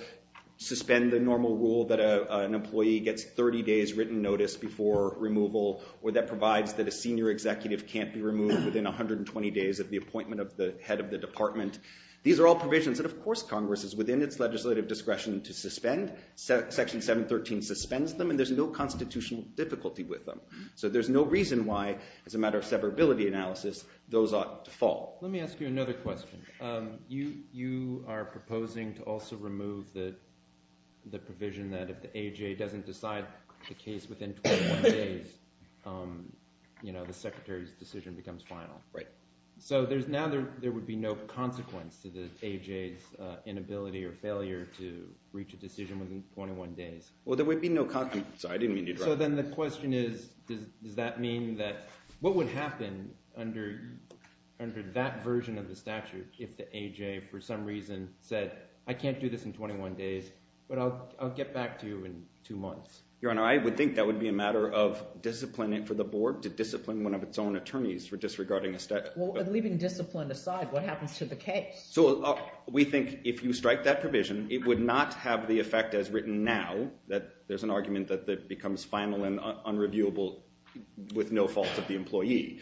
suspend the normal rule that an employee gets 30 days written notice before removal or that provides that a senior executive can't be removed within 120 days of the appointment of the head of the department. These are all provisions that, of course, Congress is within its legislative discretion to suspend. Section 713 suspends them, and there's no constitutional difficulty with them. So there's no reason why, as a matter of severability analysis, those ought to fall. Let me ask you another question. You are proposing to also remove the provision that if the AGA doesn't decide the case within 12 days, the Secretary's decision becomes final. Right. So now there would be no consequence to the AGA's inability or failure to reach a decision within 21 days. Well, there would be no consequence. I didn't mean to interrupt. So then the question is, does that mean that what would happen under that version of the statute if the AGA, for some reason, said, I can't do this in 21 days, but I'll get back to you in two months? Your Honor, I would think that would be a matter of disciplining for the board to discipline one of its own attorneys for disregarding a statute. Well, and leaving discipline aside, what happens to the case? So we think if you strike that provision, it would not have the effect as written now that there's an argument that it becomes final and unreviewable with no fault of the employee.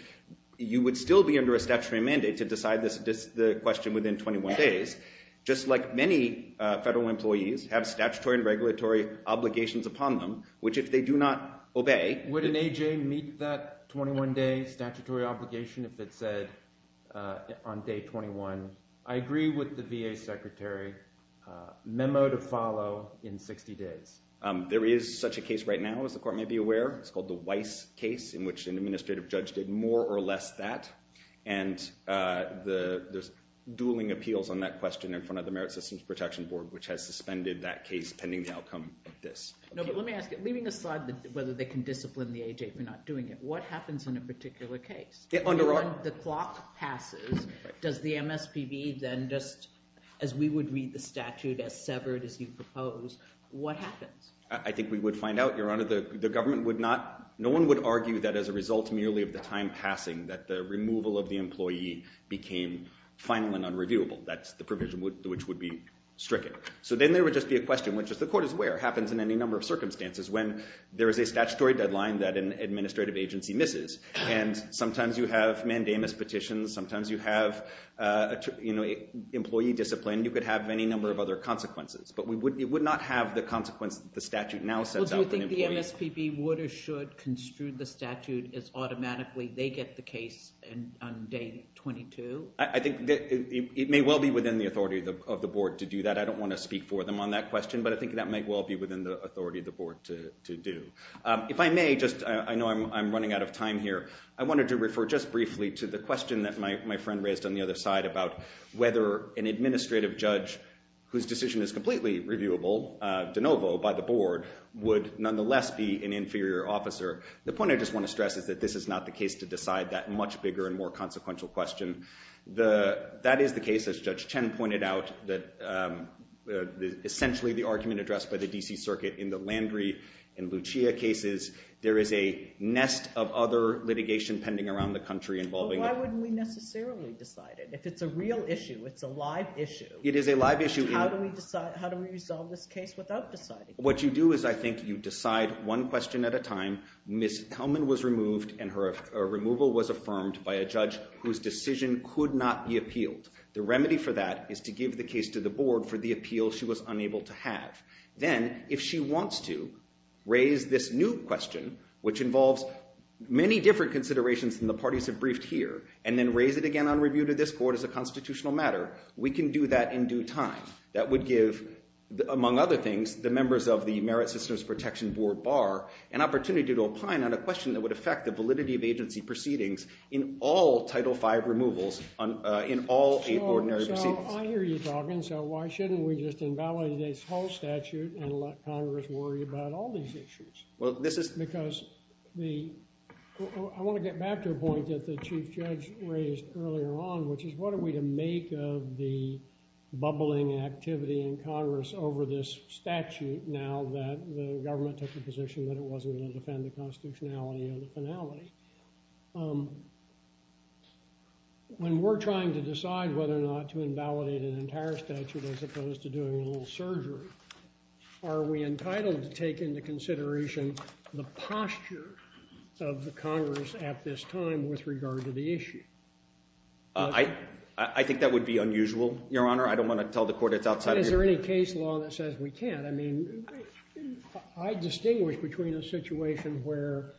You would still be under a statutory mandate to decide the question within 21 days. Just like many federal employees have statutory and regulatory obligations upon them, which if they do not obey— Would an AGA meet that 21-day statutory obligation if it said on day 21, I agree with the VA Secretary, memo to follow in 60 days? There is such a case right now, as the Court may be aware. It's called the Weiss case, in which an administrative judge did more or less that. And there's dueling appeals on that question in front of the Merit Systems Protection Board, which has suspended that case pending the outcome of this. No, but let me ask you, leaving aside whether they can discipline the AGA for not doing it, what happens in a particular case? If the clock passes, does the MSPB then just, as we would read the statute, as severed as you propose, what happens? I think we would find out, Your Honor, the government would not— No one would argue that as a result merely of the time passing, that the removal of the employee became final and unreviewable. That's the provision which would be stricter. So then there would just be a question, which if the Court is aware, happens in any number of circumstances, when there is a statutory deadline that an administrative agency misses. And sometimes you have mandamus petitions. Sometimes you have employee discipline. You could have any number of other consequences. But it would not have the consequence the statute now says— Well, do you think the MSPB would or should construe the statute as automatically they get the case on day 22? I think it may well be within the authority of the Board to do that. I don't want to speak for them on that question, but I think that might well be within the authority of the Board to do. If I may, I know I'm running out of time here. I wanted to refer just briefly to the question that my friend raised on the other side about whether an administrative judge whose decision is completely reviewable de novo by the Board would nonetheless be an inferior officer. The point I just want to stress is that this is not the case to decide that much bigger and more consequential question. That is the case, as Judge Chen pointed out, that essentially the argument addressed by the D.C. Circuit in the Landry and Lucia cases, there is a nest of other litigation pending around the country involving— But why wouldn't we necessarily decide it? If it's a real issue, it's a live issue. It is a live issue. How do we resolve this case without deciding? What you do is I think you decide one question at a time. Ms. Kelman was removed and her removal was affirmed by a judge whose decision could not be appealed. The remedy for that is to give the case to the Board for the appeal she was unable to have. Then, if she wants to raise this new question, which involves many different considerations from the parties I've briefed here, and then raise it again on review to this Court as a constitutional matter, we can do that in due time. That would give, among other things, the members of the Merit Systems Protection Board, BAR, an opportunity to opine on a question that would affect the validity of agency proceedings in all Title V removals in all extraordinary proceedings. I hear you talking, so why shouldn't we just invalidate the whole statute and let Congress worry about all these issues? Because the—I want to get back to a point that the Chief Judge raised earlier on, which is what are we to make of the bubbling activity in Congress over this statute now that the government took the position that it wasn't going to defend the constitutionality of the finality? When we're trying to decide whether or not to invalidate an entire statute as opposed to doing a little surgery, are we entitled to take into consideration the posture of the Congress at this time with regard to the issue? I think that would be unusual, Your Honor. I don't want to tell the Court it's outside the issue. Is there any case law that says we can't? I distinguish between a situation where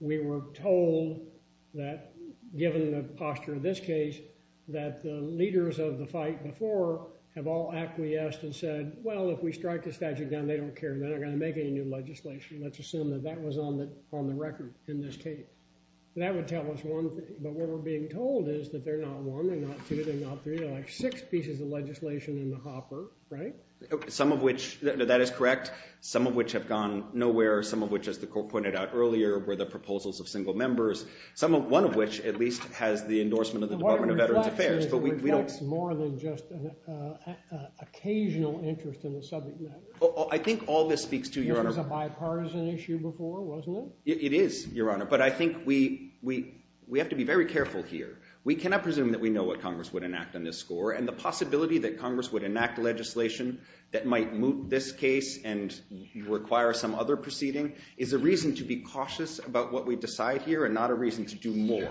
we were told that, given the posture of this case, that the leaders of the fight before have all acquiesced and said, well, if we strike the statute again, they don't care. They're not going to make any new legislation. Let's assume that that was on the record in this case. That would tell us one thing, but what we're being told is that they're not one, they're not two, they're not three. They're like six pieces of legislation in the hopper, right? Some of which, that is correct. Some of which have gone nowhere. Some of which, as the Court pointed out earlier, were the proposals of single members. One of which, at least, has the endorsement of the Department of Veterans Affairs. More than just an occasional interest in the subject matter. I think all this speaks to, Your Honor. It was a bipartisan issue before, wasn't it? It is, Your Honor, but I think we have to be very careful here. We cannot presume that we know what Congress would enact on this score, and the possibility that Congress would enact legislation that might moot this case and require some other proceeding is a reason to be cautious about what we decide here and not a reason to do more.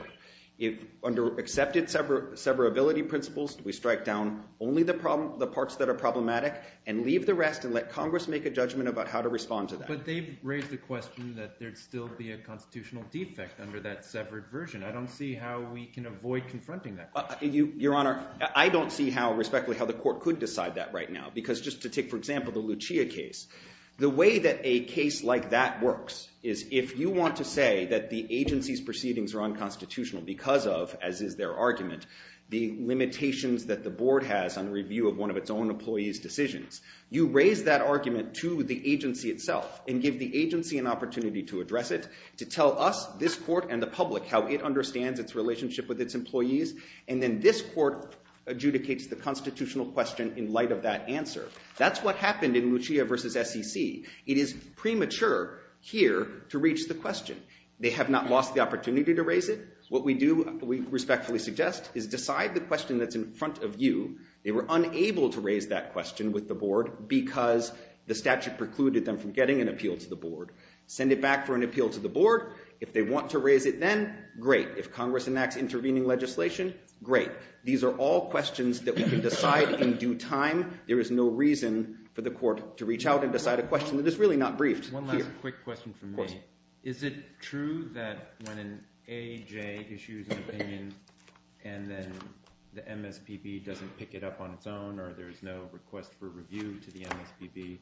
Under accepted severability principles, we strike down only the parts that are problematic and leave the rest and let Congress make a judgment about how to respond to that. But they've raised the question that there'd still be a constitutional defect under that severed version. I don't see how we can avoid confronting that. Your Honor, I don't see respectfully how the Court could decide that right now. Because just to take, for example, the Lucia case, the way that a case like that works is if you want to say that the agency's proceedings are unconstitutional because of, as is their argument, the limitations that the Board has on review of one of its own employees' decisions, you raise that argument to the agency itself and give the agency an opportunity to address it, to tell us, this Court and the public, how it understands its relationship with its employees, and then this Court adjudicates the constitutional question in light of that answer. That's what happened in Lucia v. SEC. It is premature here to reach the question. They have not lost the opportunity to raise it. What we do, we respectfully suggest, is decide the question that's in front of you. They were unable to raise that question with the Board because the statute precluded them from getting an appeal to the Board. Send it back for an appeal to the Board. If they want to raise it then, great. If Congress enacts intervening legislation, great. These are all questions that we can decide in due time. There is no reason for the Court to reach out and decide a question that is really not briefed. One last quick question from me. Is it true that when an AJ issues an opinion and then the MSPB doesn't pick it up on its own or there's no request for review to the MSPB,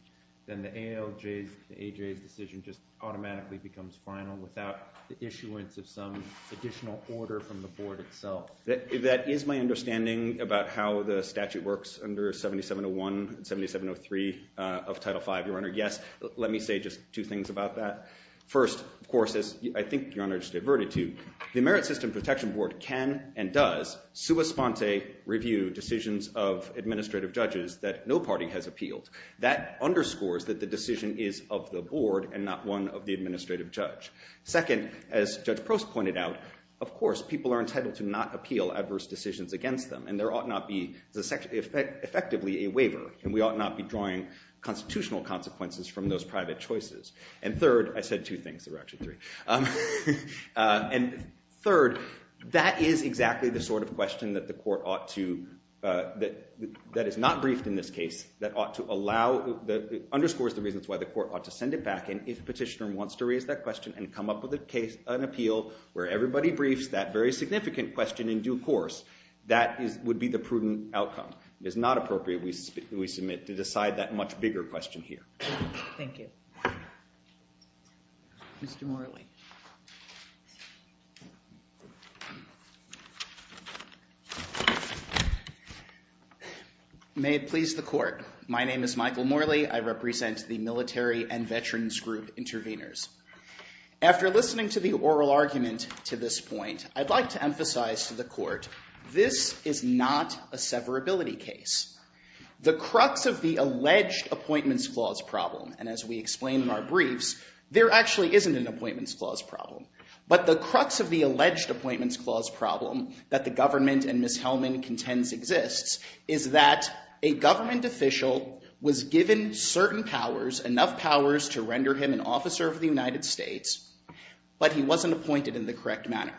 then the ALJ's decision just automatically becomes final without the issuance of some additional order from the Board itself? That is my understanding about how the statute works under 7701 and 7703 of Title V, Your Honor. Yes, let me say just two things about that. First, of course, as I think Your Honor has diverted to, the Merit System Protection Board can and does sous-esponse review decisions of administrative judges that no party has appealed. That underscores that the decision is of the Board and not one of the administrative judge. Second, as Judge Prost pointed out, of course, people are entitled to not appeal adverse decisions against them and there ought not be effectively a waiver and we ought not be drawing constitutional consequences from those private choices. And third, I said two things, there were actually three. And third, that is exactly the sort of question that the court ought to, that is not briefed in this case, that ought to allow, that underscores the reasons why the court ought to send it back in if the petitioner wants to raise that question and come up with a case, an appeal, where everybody briefs that very significant question in due course, that would be the prudent outcome. It is not appropriate, we submit, to decide that much bigger question here. Thank you. Mr. Morley. May it please the court. My name is Michael Morley. I represent the Military and Veterans Group Intervenors. After listening to the oral argument to this point, I'd like to emphasize to the court, this is not a severability case. The crux of the alleged appointments clause problem, and as we explained in our briefs, there actually isn't an appointments clause problem. But the crux of the alleged appointments clause problem that the government and Ms. Hellman contends exists is that a government official was given certain powers, enough powers to render him an officer of the United States, but he wasn't appointed in the correct manner.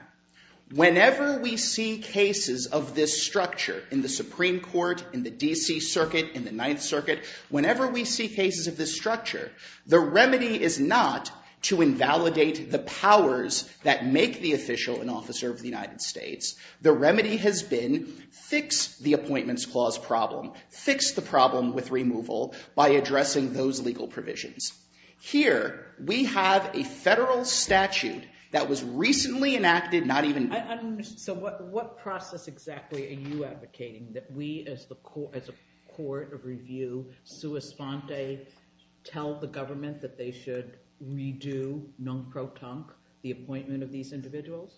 Whenever we see cases of this structure in the Supreme Court, in the D.C. Circuit, in the Ninth Circuit, whenever we see cases of this structure, the remedy is not to invalidate the powers that make the official an officer of the United States. The remedy has been fix the appointments clause problem. Fix the problem with removal by addressing those legal provisions. Here, we have a federal statute that was recently enacted, not even... So what process exactly are you advocating that we as a court of review, sui sante, tell the government that they should redo, non pro tonque, the appointment of these individuals?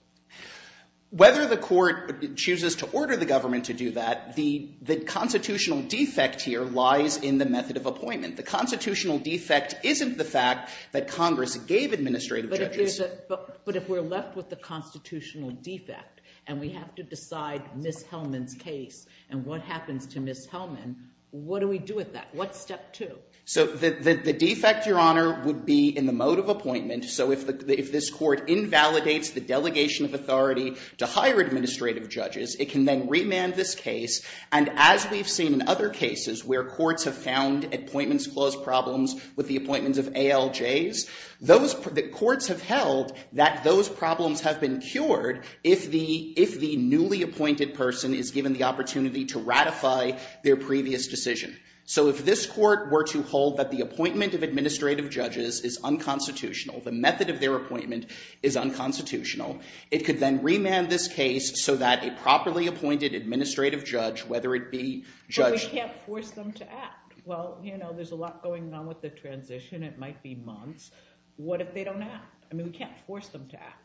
Whether the court chooses to order the government to do that, the constitutional defect here lies in the method of appointment. The constitutional defect isn't the fact that Congress gave administrative judges. But if we're left with the constitutional defect, and we have to decide Ms. Hellman's case, and what happens to Ms. Hellman, what do we do with that? What's step two? So the defect, Your Honor, would be in the mode of appointment. So if this court invalidates the delegation of authority to hire administrative judges, it can then remand this case, and as we've seen in other cases where courts have found appointments clause problems with the appointments of ALJs, the courts have held that those problems have been cured if the newly appointed person is given the opportunity to ratify their previous decision. So if this court were to hold that the appointment of administrative judges is unconstitutional, the method of their appointment is unconstitutional, it could then remand this case so that a properly appointed administrative judge, whether it be Judge... But we can't force them to act. Well, you know, there's a lot going on with the transition. It might be months. What if they don't act? I mean, we can't force them to act.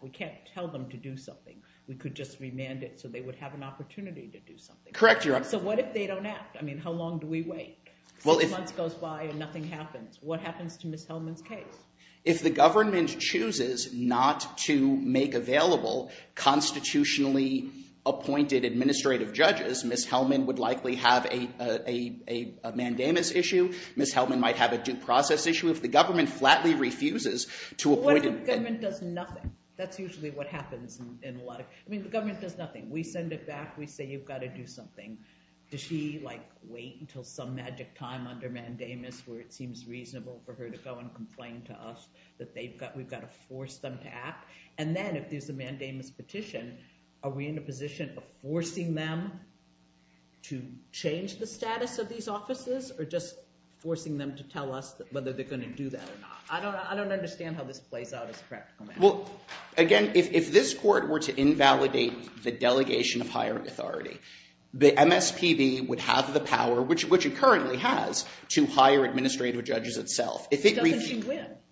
We can't tell them to do something. We could just remand it so they would have an opportunity to do something. Correct, Your Honor. So what if they don't act? I mean, how long do we wait? A month goes by and nothing happens. What happens to Ms. Hellman's case? If the government chooses not to make available constitutionally appointed administrative judges, Ms. Hellman would likely have a mandamus issue. Ms. Hellman might have a due process issue. If the government flatly refuses to appoint... What if the government does nothing? That's usually what happens in a lot of... I mean, the government does nothing. We send it back, we say you've got to do something. Does she, like, wait until some magic time under mandamus where it seems reasonable for her to go and complain to us that we've got to force them to act? And then if there's a mandamus petition, are we in a position of forcing them to change the status of these offices or just forcing them to tell us whether they're going to do that or not? I don't understand how this plays out. Well, again, if this court were to invalidate the delegation of hiring authority, the MSPB would have the power, which it currently has, to hire administrative judges itself. But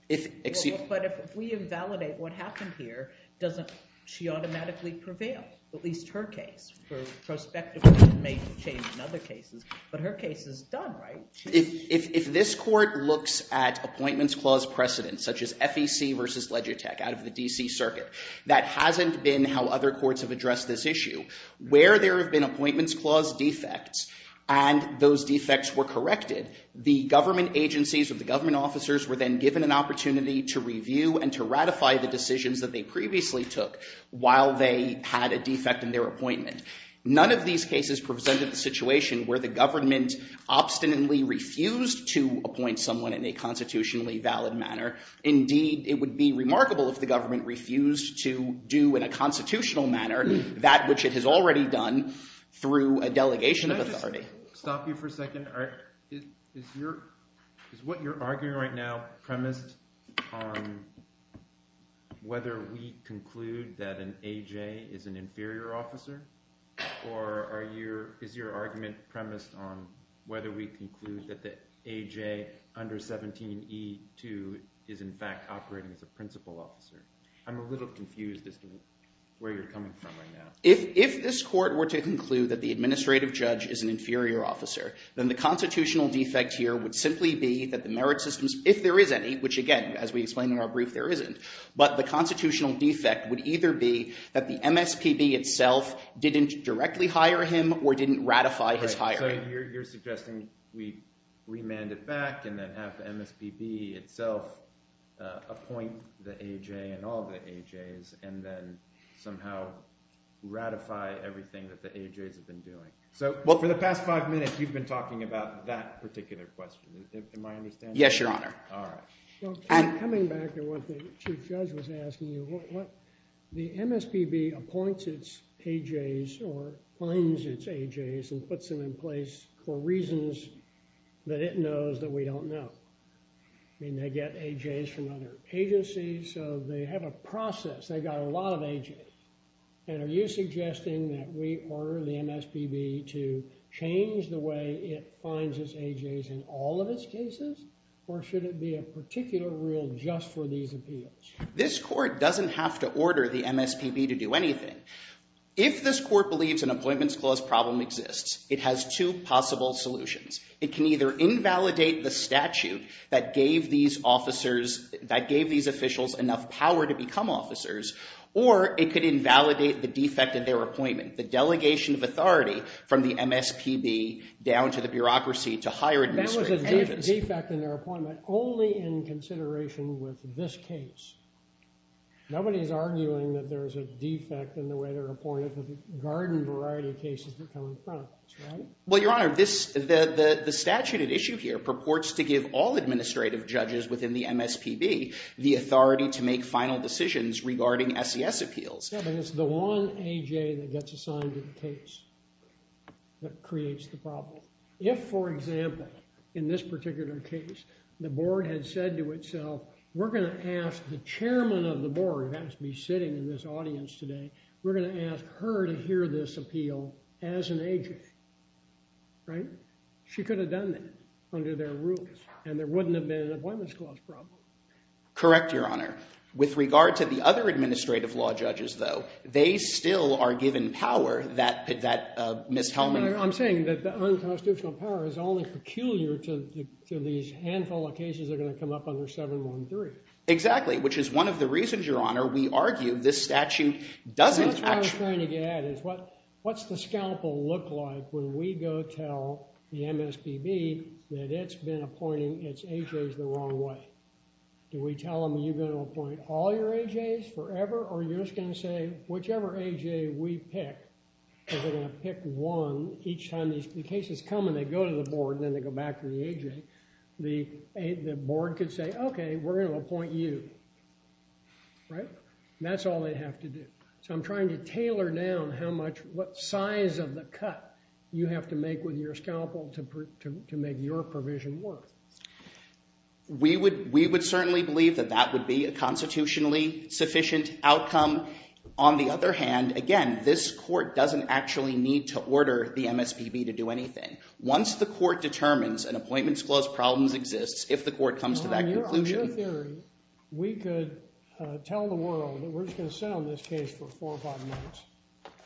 if we invalidate what happened here, doesn't she automatically prevail, at least her case, for prospective information change in other cases? But her case is done, right? If this court looks at appointments clause precedents, such as FEC versus Legitech out of the D.C. Circuit, that hasn't been how other courts have addressed this issue. Where there have been appointments clause defects and those defects were corrected, the government agencies or the government officers were then given an opportunity to review and to ratify the decisions that they previously took while they had a defect in their appointment. None of these cases presented a situation where the government obstinately refused to appoint someone in a constitutionally valid manner. Indeed, it would be remarkable if the government refused to do in a constitutional manner that which it has already done through a delegation of authority. I'll stop you for a second. Is what you're arguing right now premised on whether we conclude that an AJ is an inferior officer? Or is your argument premised on whether we conclude that the AJ under 17E2 is in fact operating as a principal officer? I'm a little confused as to where you're coming from right now. If this court were to conclude that the administrative judge is an inferior officer, then the constitutional defect here would simply be that the merit systems, if there is any, which again, as we explain in our brief, there isn't, but the constitutional defect would either be that the MSTB itself didn't directly hire him or didn't ratify his hiring. So you're suggesting we remand it back and then have the MSTB itself appoint the AJ and all the AJs and then somehow ratify everything that the AJs have been doing. For the past five minutes, you've been talking about that particular question. Do you think to my understanding? Yes, Your Honor. All right. I'm coming back to what the Chief Judge was asking. The MSTB appoints its AJs or finds its AJs and puts them in place for reasons that it knows that we don't know. I mean, they get AJs from other agencies, so they have a process. They've got a lot of AJs. And are you suggesting that we order the MSTB to change the way it finds its AJs in all of its cases, or should it be a particular rule just for these appeals? This court doesn't have to order the MSTB to do anything. If this court believes an employment-disclosed problem exists, it has two possible solutions. It can either invalidate the statute that gave these officers, that gave these officials enough power to become officers, or it could invalidate the defect in their appointment, the delegation of authority from the MSTB down to the bureaucracy to hire administrators. That was a defect in their appointment only in consideration with this case. Nobody's arguing that there's a defect in the way they're appointed because a garden variety of cases are coming up, right? Well, Your Honor, the statute at issue here purports to give all administrative judges within the MSTB the authority to make final decisions regarding SES appeals. It's the one AJ that gets assigned to the case that creates the problem. If, for example, in this particular case, the board had said to itself, we're going to ask the chairman of the board, who has to be sitting in this audience today, we're going to ask her to hear this appeal as an AJ, right? She could have done that under that rule, and there wouldn't have been an employment-disclosed problem. Correct, Your Honor. With regard to the other administrative law judges, though, they still are given power that Ms. Hellman... I'm saying that the unconstitutional power is only peculiar to these handful of cases that are going to come up under 713. Exactly, which is one of the reasons, Your Honor, we argue this statute doesn't actually... What I was trying to get at is what's the scalpel look like when we go tell the MSPB that it's been appointing its AJs the wrong way? Do we tell them, you're going to appoint all your AJs forever, or are you just going to say, whichever AJ we pick, we're going to pick one each time... The cases come and they go to the board, and then they go back to the AJ. The board could say, okay, we're going to appoint you, right? That's all they have to do. So I'm trying to tailor down what size of the cut you have to make with your scalpel to make your provision work. We would certainly believe that that would be a constitutionally sufficient outcome. On the other hand, again, this court doesn't actually need to order the MSPB to do anything. Once the court determines an appointments clause problem exists, if the court comes to that conclusion... Your theory, we could tell the world that we're just going to sit on this case for four or five months,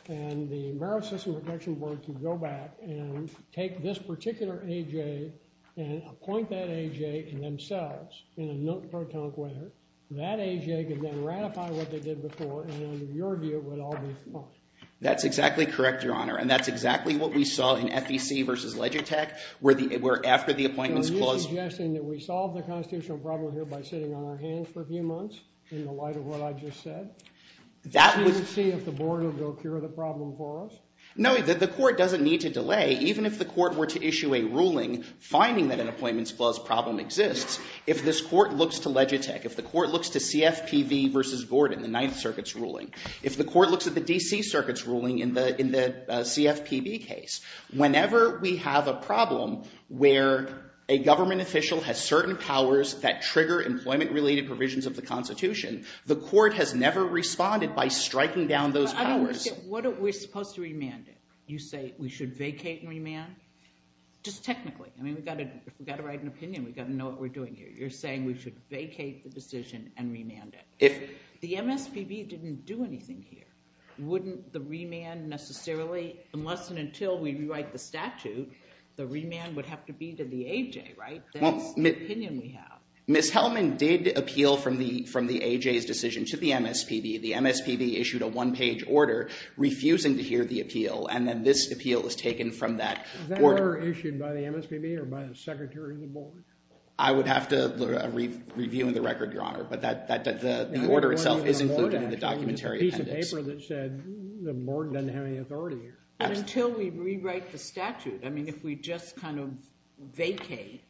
and the merit system protection board can go back and take this particular AJ and appoint that AJ themselves in a nonpartisan way. That AJ could then ratify what they did before, and your deal would all be fine. That's exactly correct, Your Honor, and that's exactly what we saw in FEC versus Legitech, where after the appointment was closed... Are you suggesting that we solve the constitutional problem here by sitting on our hands for a few months, in the light of what I just said? We'll see if the board will cure the problem for us? No, the court doesn't need to delay. Even if the court were to issue a ruling finding that an appointments clause problem exists, if this court looks to Legitech, if the court looks to CFPB versus Gordon, the Ninth Circuit's ruling, if the court looks at the D.C. Circuit's ruling in the CFPB case, whenever we have a problem where a government official has certain powers that trigger employment-related provisions of the Constitution, the court has never responded by striking down those powers. I don't understand. What if we're supposed to remand it? You say we should vacate and remand? Just technically. I mean, we've got to write an opinion. We've got to know what we're doing here. You're saying we should vacate the decision and remand it. The MSPB didn't do anything here. Wouldn't the remand necessarily... Unless and until we rewrite the statute, the remand would have to be to the AJ, right? Ms. Hellman did appeal from the AJ's decision to the MSPB. The MSPB issued a one-page order refusing to hear the appeal, and then this appeal was taken from that order. Was that order issued by the MSPB or by the Secretary of the Board? I would have to review the record, Your Honor, but the order itself isn't included in the documentary sentence. It was a piece of paper that said the Board doesn't have any authority here. Until we rewrite the statute. I mean, if we just kind of vacate,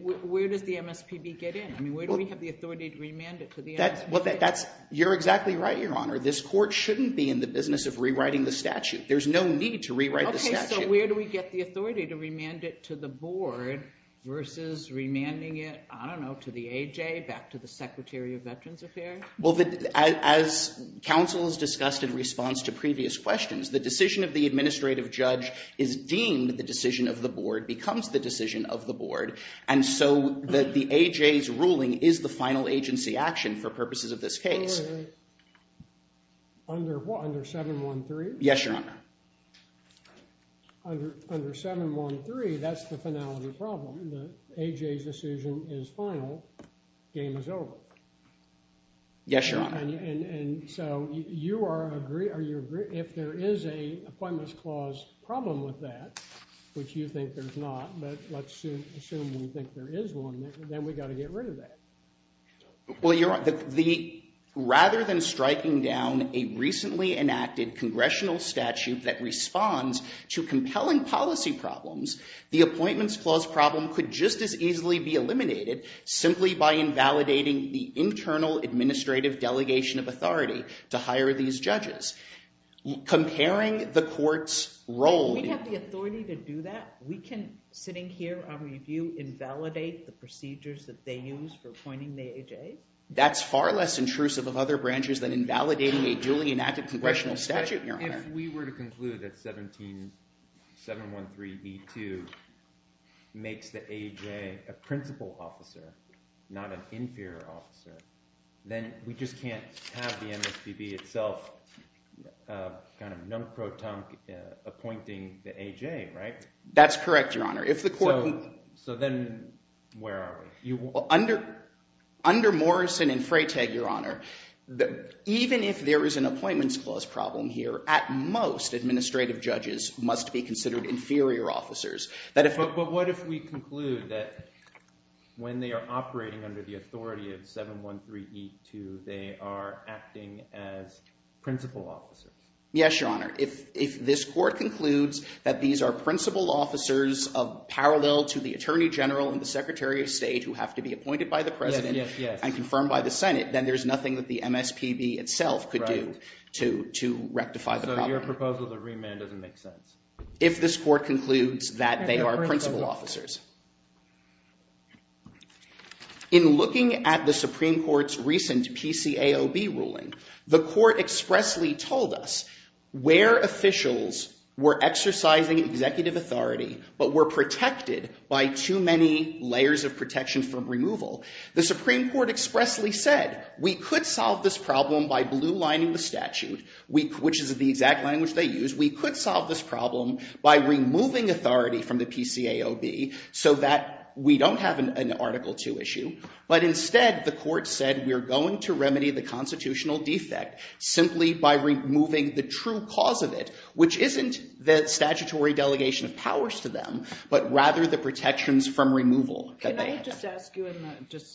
where does the MSPB get in? I mean, where do we have the authority to remand it to the MSPB? You're exactly right, Your Honor. This court shouldn't be in the business of rewriting the statute. There's no need to rewrite the statute. Okay, so where do we get the authority to remand it to the Board versus remanding it, I don't know, to the AJ, back to the Secretary of Veterans Affairs? Well, as counsel has discussed in response to previous questions, the decision of the administrative judge is deemed the decision of the Board, becomes the decision of the Board, and so the AJ's ruling is the final agency action for purposes of this case. Under what, under 713? Yes, Your Honor. Under 713, that's the finality problem. The AJ's decision is final, game is over. Yes, Your Honor. And so if there is an appointments clause problem with that, which you think there's not, but let's assume you think there is one, then we've got to get rid of that. Well, Your Honor, rather than striking down a recently enacted congressional statute that responds to compelling policy problems, the appointments clause problem could just as easily be eliminated simply by invalidating the internal administrative delegation of authority to hire these judges. Comparing the court's role... We have the authority to do that? We can, sitting here on review, invalidate the procedures that they use for appointing the AJ? That's far less intrusive of other branches than invalidating a newly enacted congressional statute, Your Honor. If we were to conclude that 713B2 makes the AJ a principal officer, not an inferior officer, then we just can't have the MSPB itself kind of non-proton appointing the AJ, right? That's correct, Your Honor. So then where are we? Under Morrison and Freytag, Your Honor, even if there is an appointments clause problem here, at most administrative judges must be considered inferior officers. But what if we conclude that when they are operating under the authority of 713B2, they are acting as principal officers? Yes, Your Honor. If this court concludes that these are principal officers parallel to the Attorney General and the Secretary of State who have to be appointed by the President and confirmed by the Senate, then there's nothing that the MSPB itself could do to rectify the problem. So if your proposal is a remand, it doesn't make sense. If this court concludes that they are principal officers. In looking at the Supreme Court's recent PCAOB ruling, the court expressly told us where officials were exercising executive authority but were protected by too many layers of protection from removal, the Supreme Court expressly said, we could solve this problem by blue-lining the statute, which is the exact language they used. We could solve this problem by removing authority from the PCAOB so that we don't have an Article II issue. But instead, the court said, we're going to remedy the constitutional defect simply by removing the true cause of it, which isn't the statutory delegation of powers to them, but rather the protections from removal. Can I just ask you, and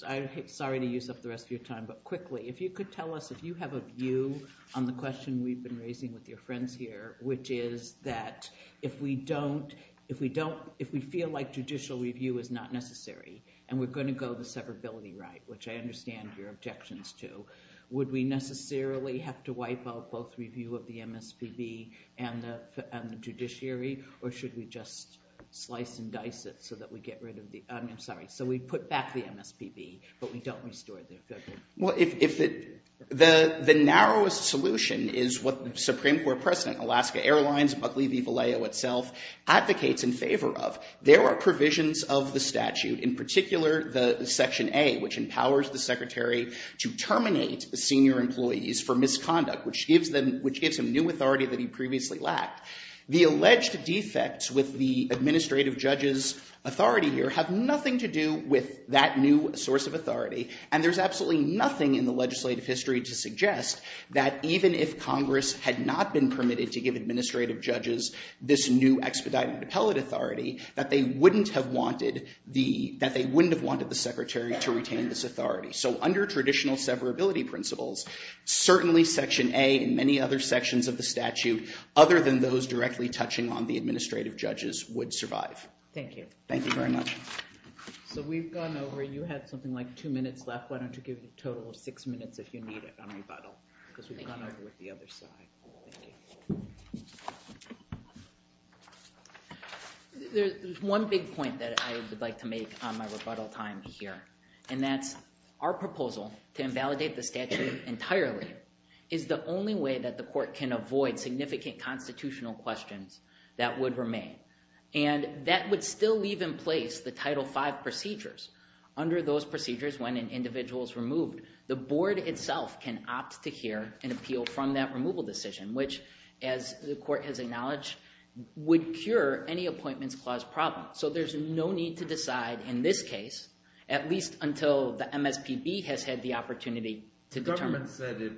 I'm sorry to use up the rest of your time, but quickly, if you could tell us if you have a view on the question we've been raising with your friends here, which is that if we feel like judicial review is not necessary and we're going to go to severability right, which I understand your objections to, would we necessarily have to wipe out both review of the MSPB and the judiciary, or should we just slice and dice it so that we get rid of the, I'm sorry, so we put back the MSPB, but we don't restore the judiciary? Well, the narrowest solution is what the Supreme Court precedent, Alaska Airlines, Buckley v. Vallejo itself, advocates in favor of. There are provisions of the statute, in particular the Section A, which empowers the secretary to terminate senior employees for misconduct, which gives them new authority that he previously lacked. The alleged defects with the administrative judge's authority here have nothing to do with that new source of authority, and there's absolutely nothing in the legislative history to suggest that even if Congress had not been permitted to give administrative judges this new expedited appellate authority, that they wouldn't have wanted the secretary to retain this authority. So under traditional severability principles, certainly Section A and many other sections of the statute, other than those directly touching on the administrative judges, would survive. Thank you. Thank you very much. We've gone over. You had something like two minutes left. Why don't you give a total of six minutes if you need it on rebuttal because we've gone over the other side. Thank you. There's one big point that I would like to make on my rebuttal time here, and that's our proposal to invalidate the statute entirely is the only way that the court can avoid significant constitutional questions that would remain. And that would still leave in place the Title V procedures. Under those procedures, when an individual is removed, the board itself can opt to hear an appeal from that removal decision, which, as the court has acknowledged, would cure any appointments clause problem. So there's no need to decide in this case, at least until the MSPB has had the opportunity to determine. The government said it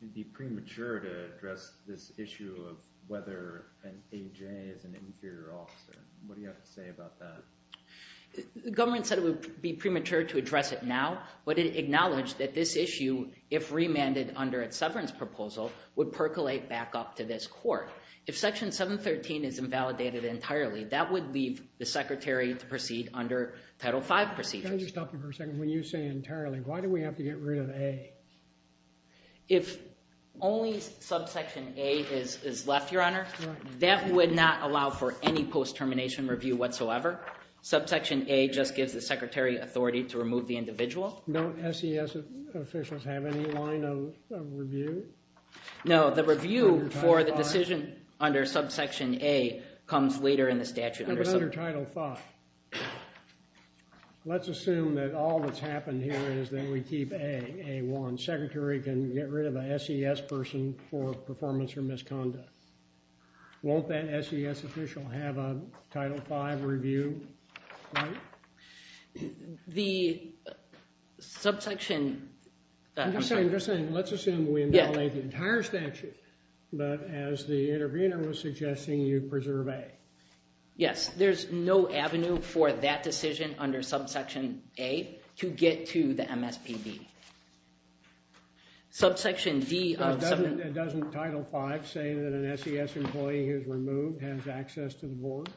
would be premature to address this issue of whether an AJ is an inferior officer. What do you have to say about that? The government said it would be premature to address it now, but it acknowledged that this issue, if remanded under a severance proposal, would percolate back up to this court. If Section 713 is invalidated entirely, that would leave the Secretary to proceed under Title V procedures. Can I just stop you for a second? When you say entirely, why do we have to get rid of A? If only Subsection A is left, Your Honor, that would not allow for any post-termination review whatsoever. Subsection A just gives the Secretary authority to remove the individual. Don't SES officials have any line of review? No, the review for the decision under Subsection A comes later in the statute. Under Title V. Let's assume that all that's happened here is that we keep A, A1. The Secretary can get rid of an SES person for performance or misconduct. Won't that SES official have a Title V review? The subsection… I'm just saying, let's assume we invalidate the entire statute, but as the intervener was suggesting, you preserve A. Yes, there's no avenue for that decision under Subsection A to get to the MSPB. Subsection D… Doesn't Title V say that an SES employee who's removed has access to the board?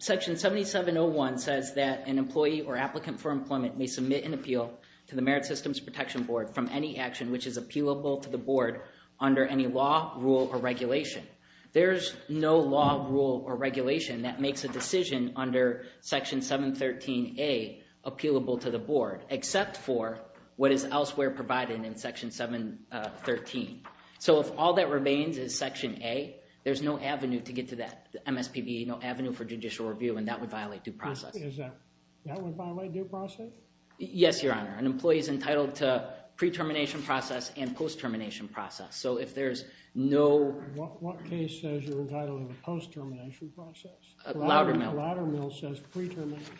Section 7701 says that an employee or applicant for employment may submit an appeal to the Merit Systems Protection Board from any action which is appealable to the board under any law, rule, or regulation. There's no law, rule, or regulation that makes a decision under Section 713A appealable to the board, except for what is elsewhere provided in Section 713. So if all that remains is Section A, there's no avenue to get to that MSPB, no avenue for judicial review, and that would violate due process. That would violate due process? Yes, Your Honor. An employee is entitled to pre-termination process and post-termination process. So if there's no… What case says you're entitled to post-termination process? Loudermill. Loudermill says pre-termination.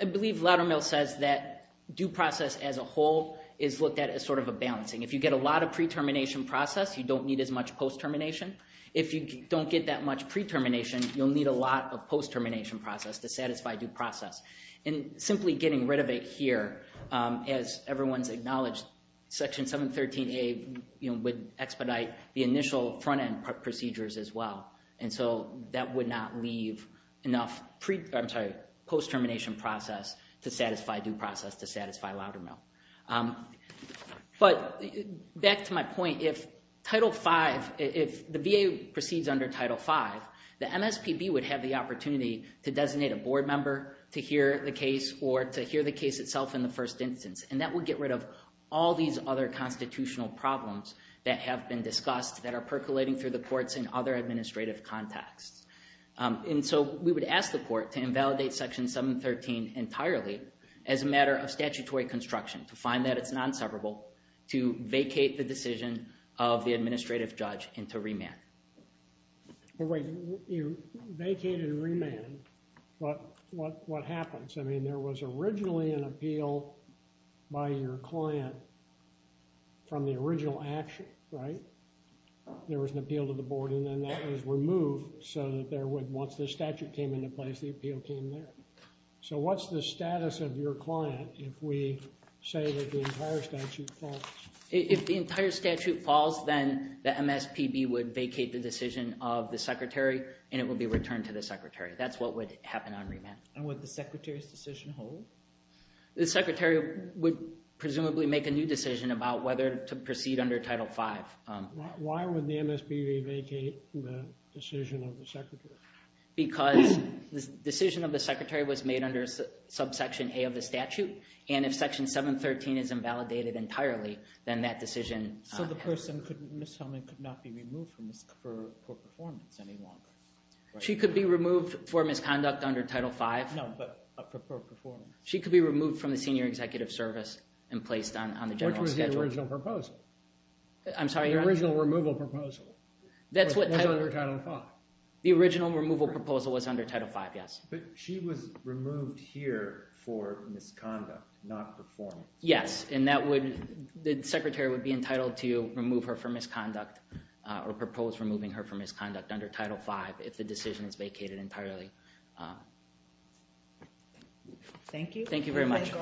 I believe Loudermill says that due process as a whole is looked at as sort of a balancing. If you get a lot of pre-termination process, you don't need as much post-termination. If you don't get that much pre-termination, you'll need a lot of post-termination process to satisfy due process. And simply getting rid of it here, as everyone's acknowledged, Section 713A would expedite the initial front-end procedures as well. And so that would not leave enough post-termination process to satisfy due process, to satisfy Loudermill. But back to my point, if Title V, if the VA proceeds under Title V, the MSPB would have the opportunity to designate a board member to hear the case or to hear the case itself in the first instance. And that would get rid of all these other constitutional problems that have been discussed, that are percolating through the courts in other administrative contexts. And so we would ask the court to invalidate Section 713 entirely as a matter of statutory construction, to find that it's non-separable, to vacate the decision of the administrative judge and to remand. But wait, you vacated and remanded. What happens? I mean, there was originally an appeal by your client from the original action, right? There was an appeal to the board, and then that was removed so that there would, once the statute came into place, the appeal came there. So what's the status of your client if we say that the entire statute falls? If the entire statute falls, then the MSPB would vacate the decision of the secretary, and it would be returned to the secretary. That's what would happen on remand. And would the secretary's decision hold? The secretary would presumably make a new decision about whether to proceed under Title V. Why would the MSPB vacate the decision of the secretary? Because the decision of the secretary was made under subsection A of the statute, and if section 713 is invalidated entirely, then that decision... So the person, Ms. Sullivan, could not be removed for performance anymore. She could be removed for misconduct under Title V. No, but a preferred performance. She could be removed from the senior executive service and placed on the general schedule. Which was the original proposal. I'm sorry, Your Honor. The original removal proposal. That's what I... Under Title V. The original removal proposal was under Title V, yes. But she was removed here for misconduct, not performance. Yes, and that would... The secretary would be entitled to remove her for misconduct or propose removing her for misconduct under Title V if the decision is vacated entirely. Thank you. Thank you very much.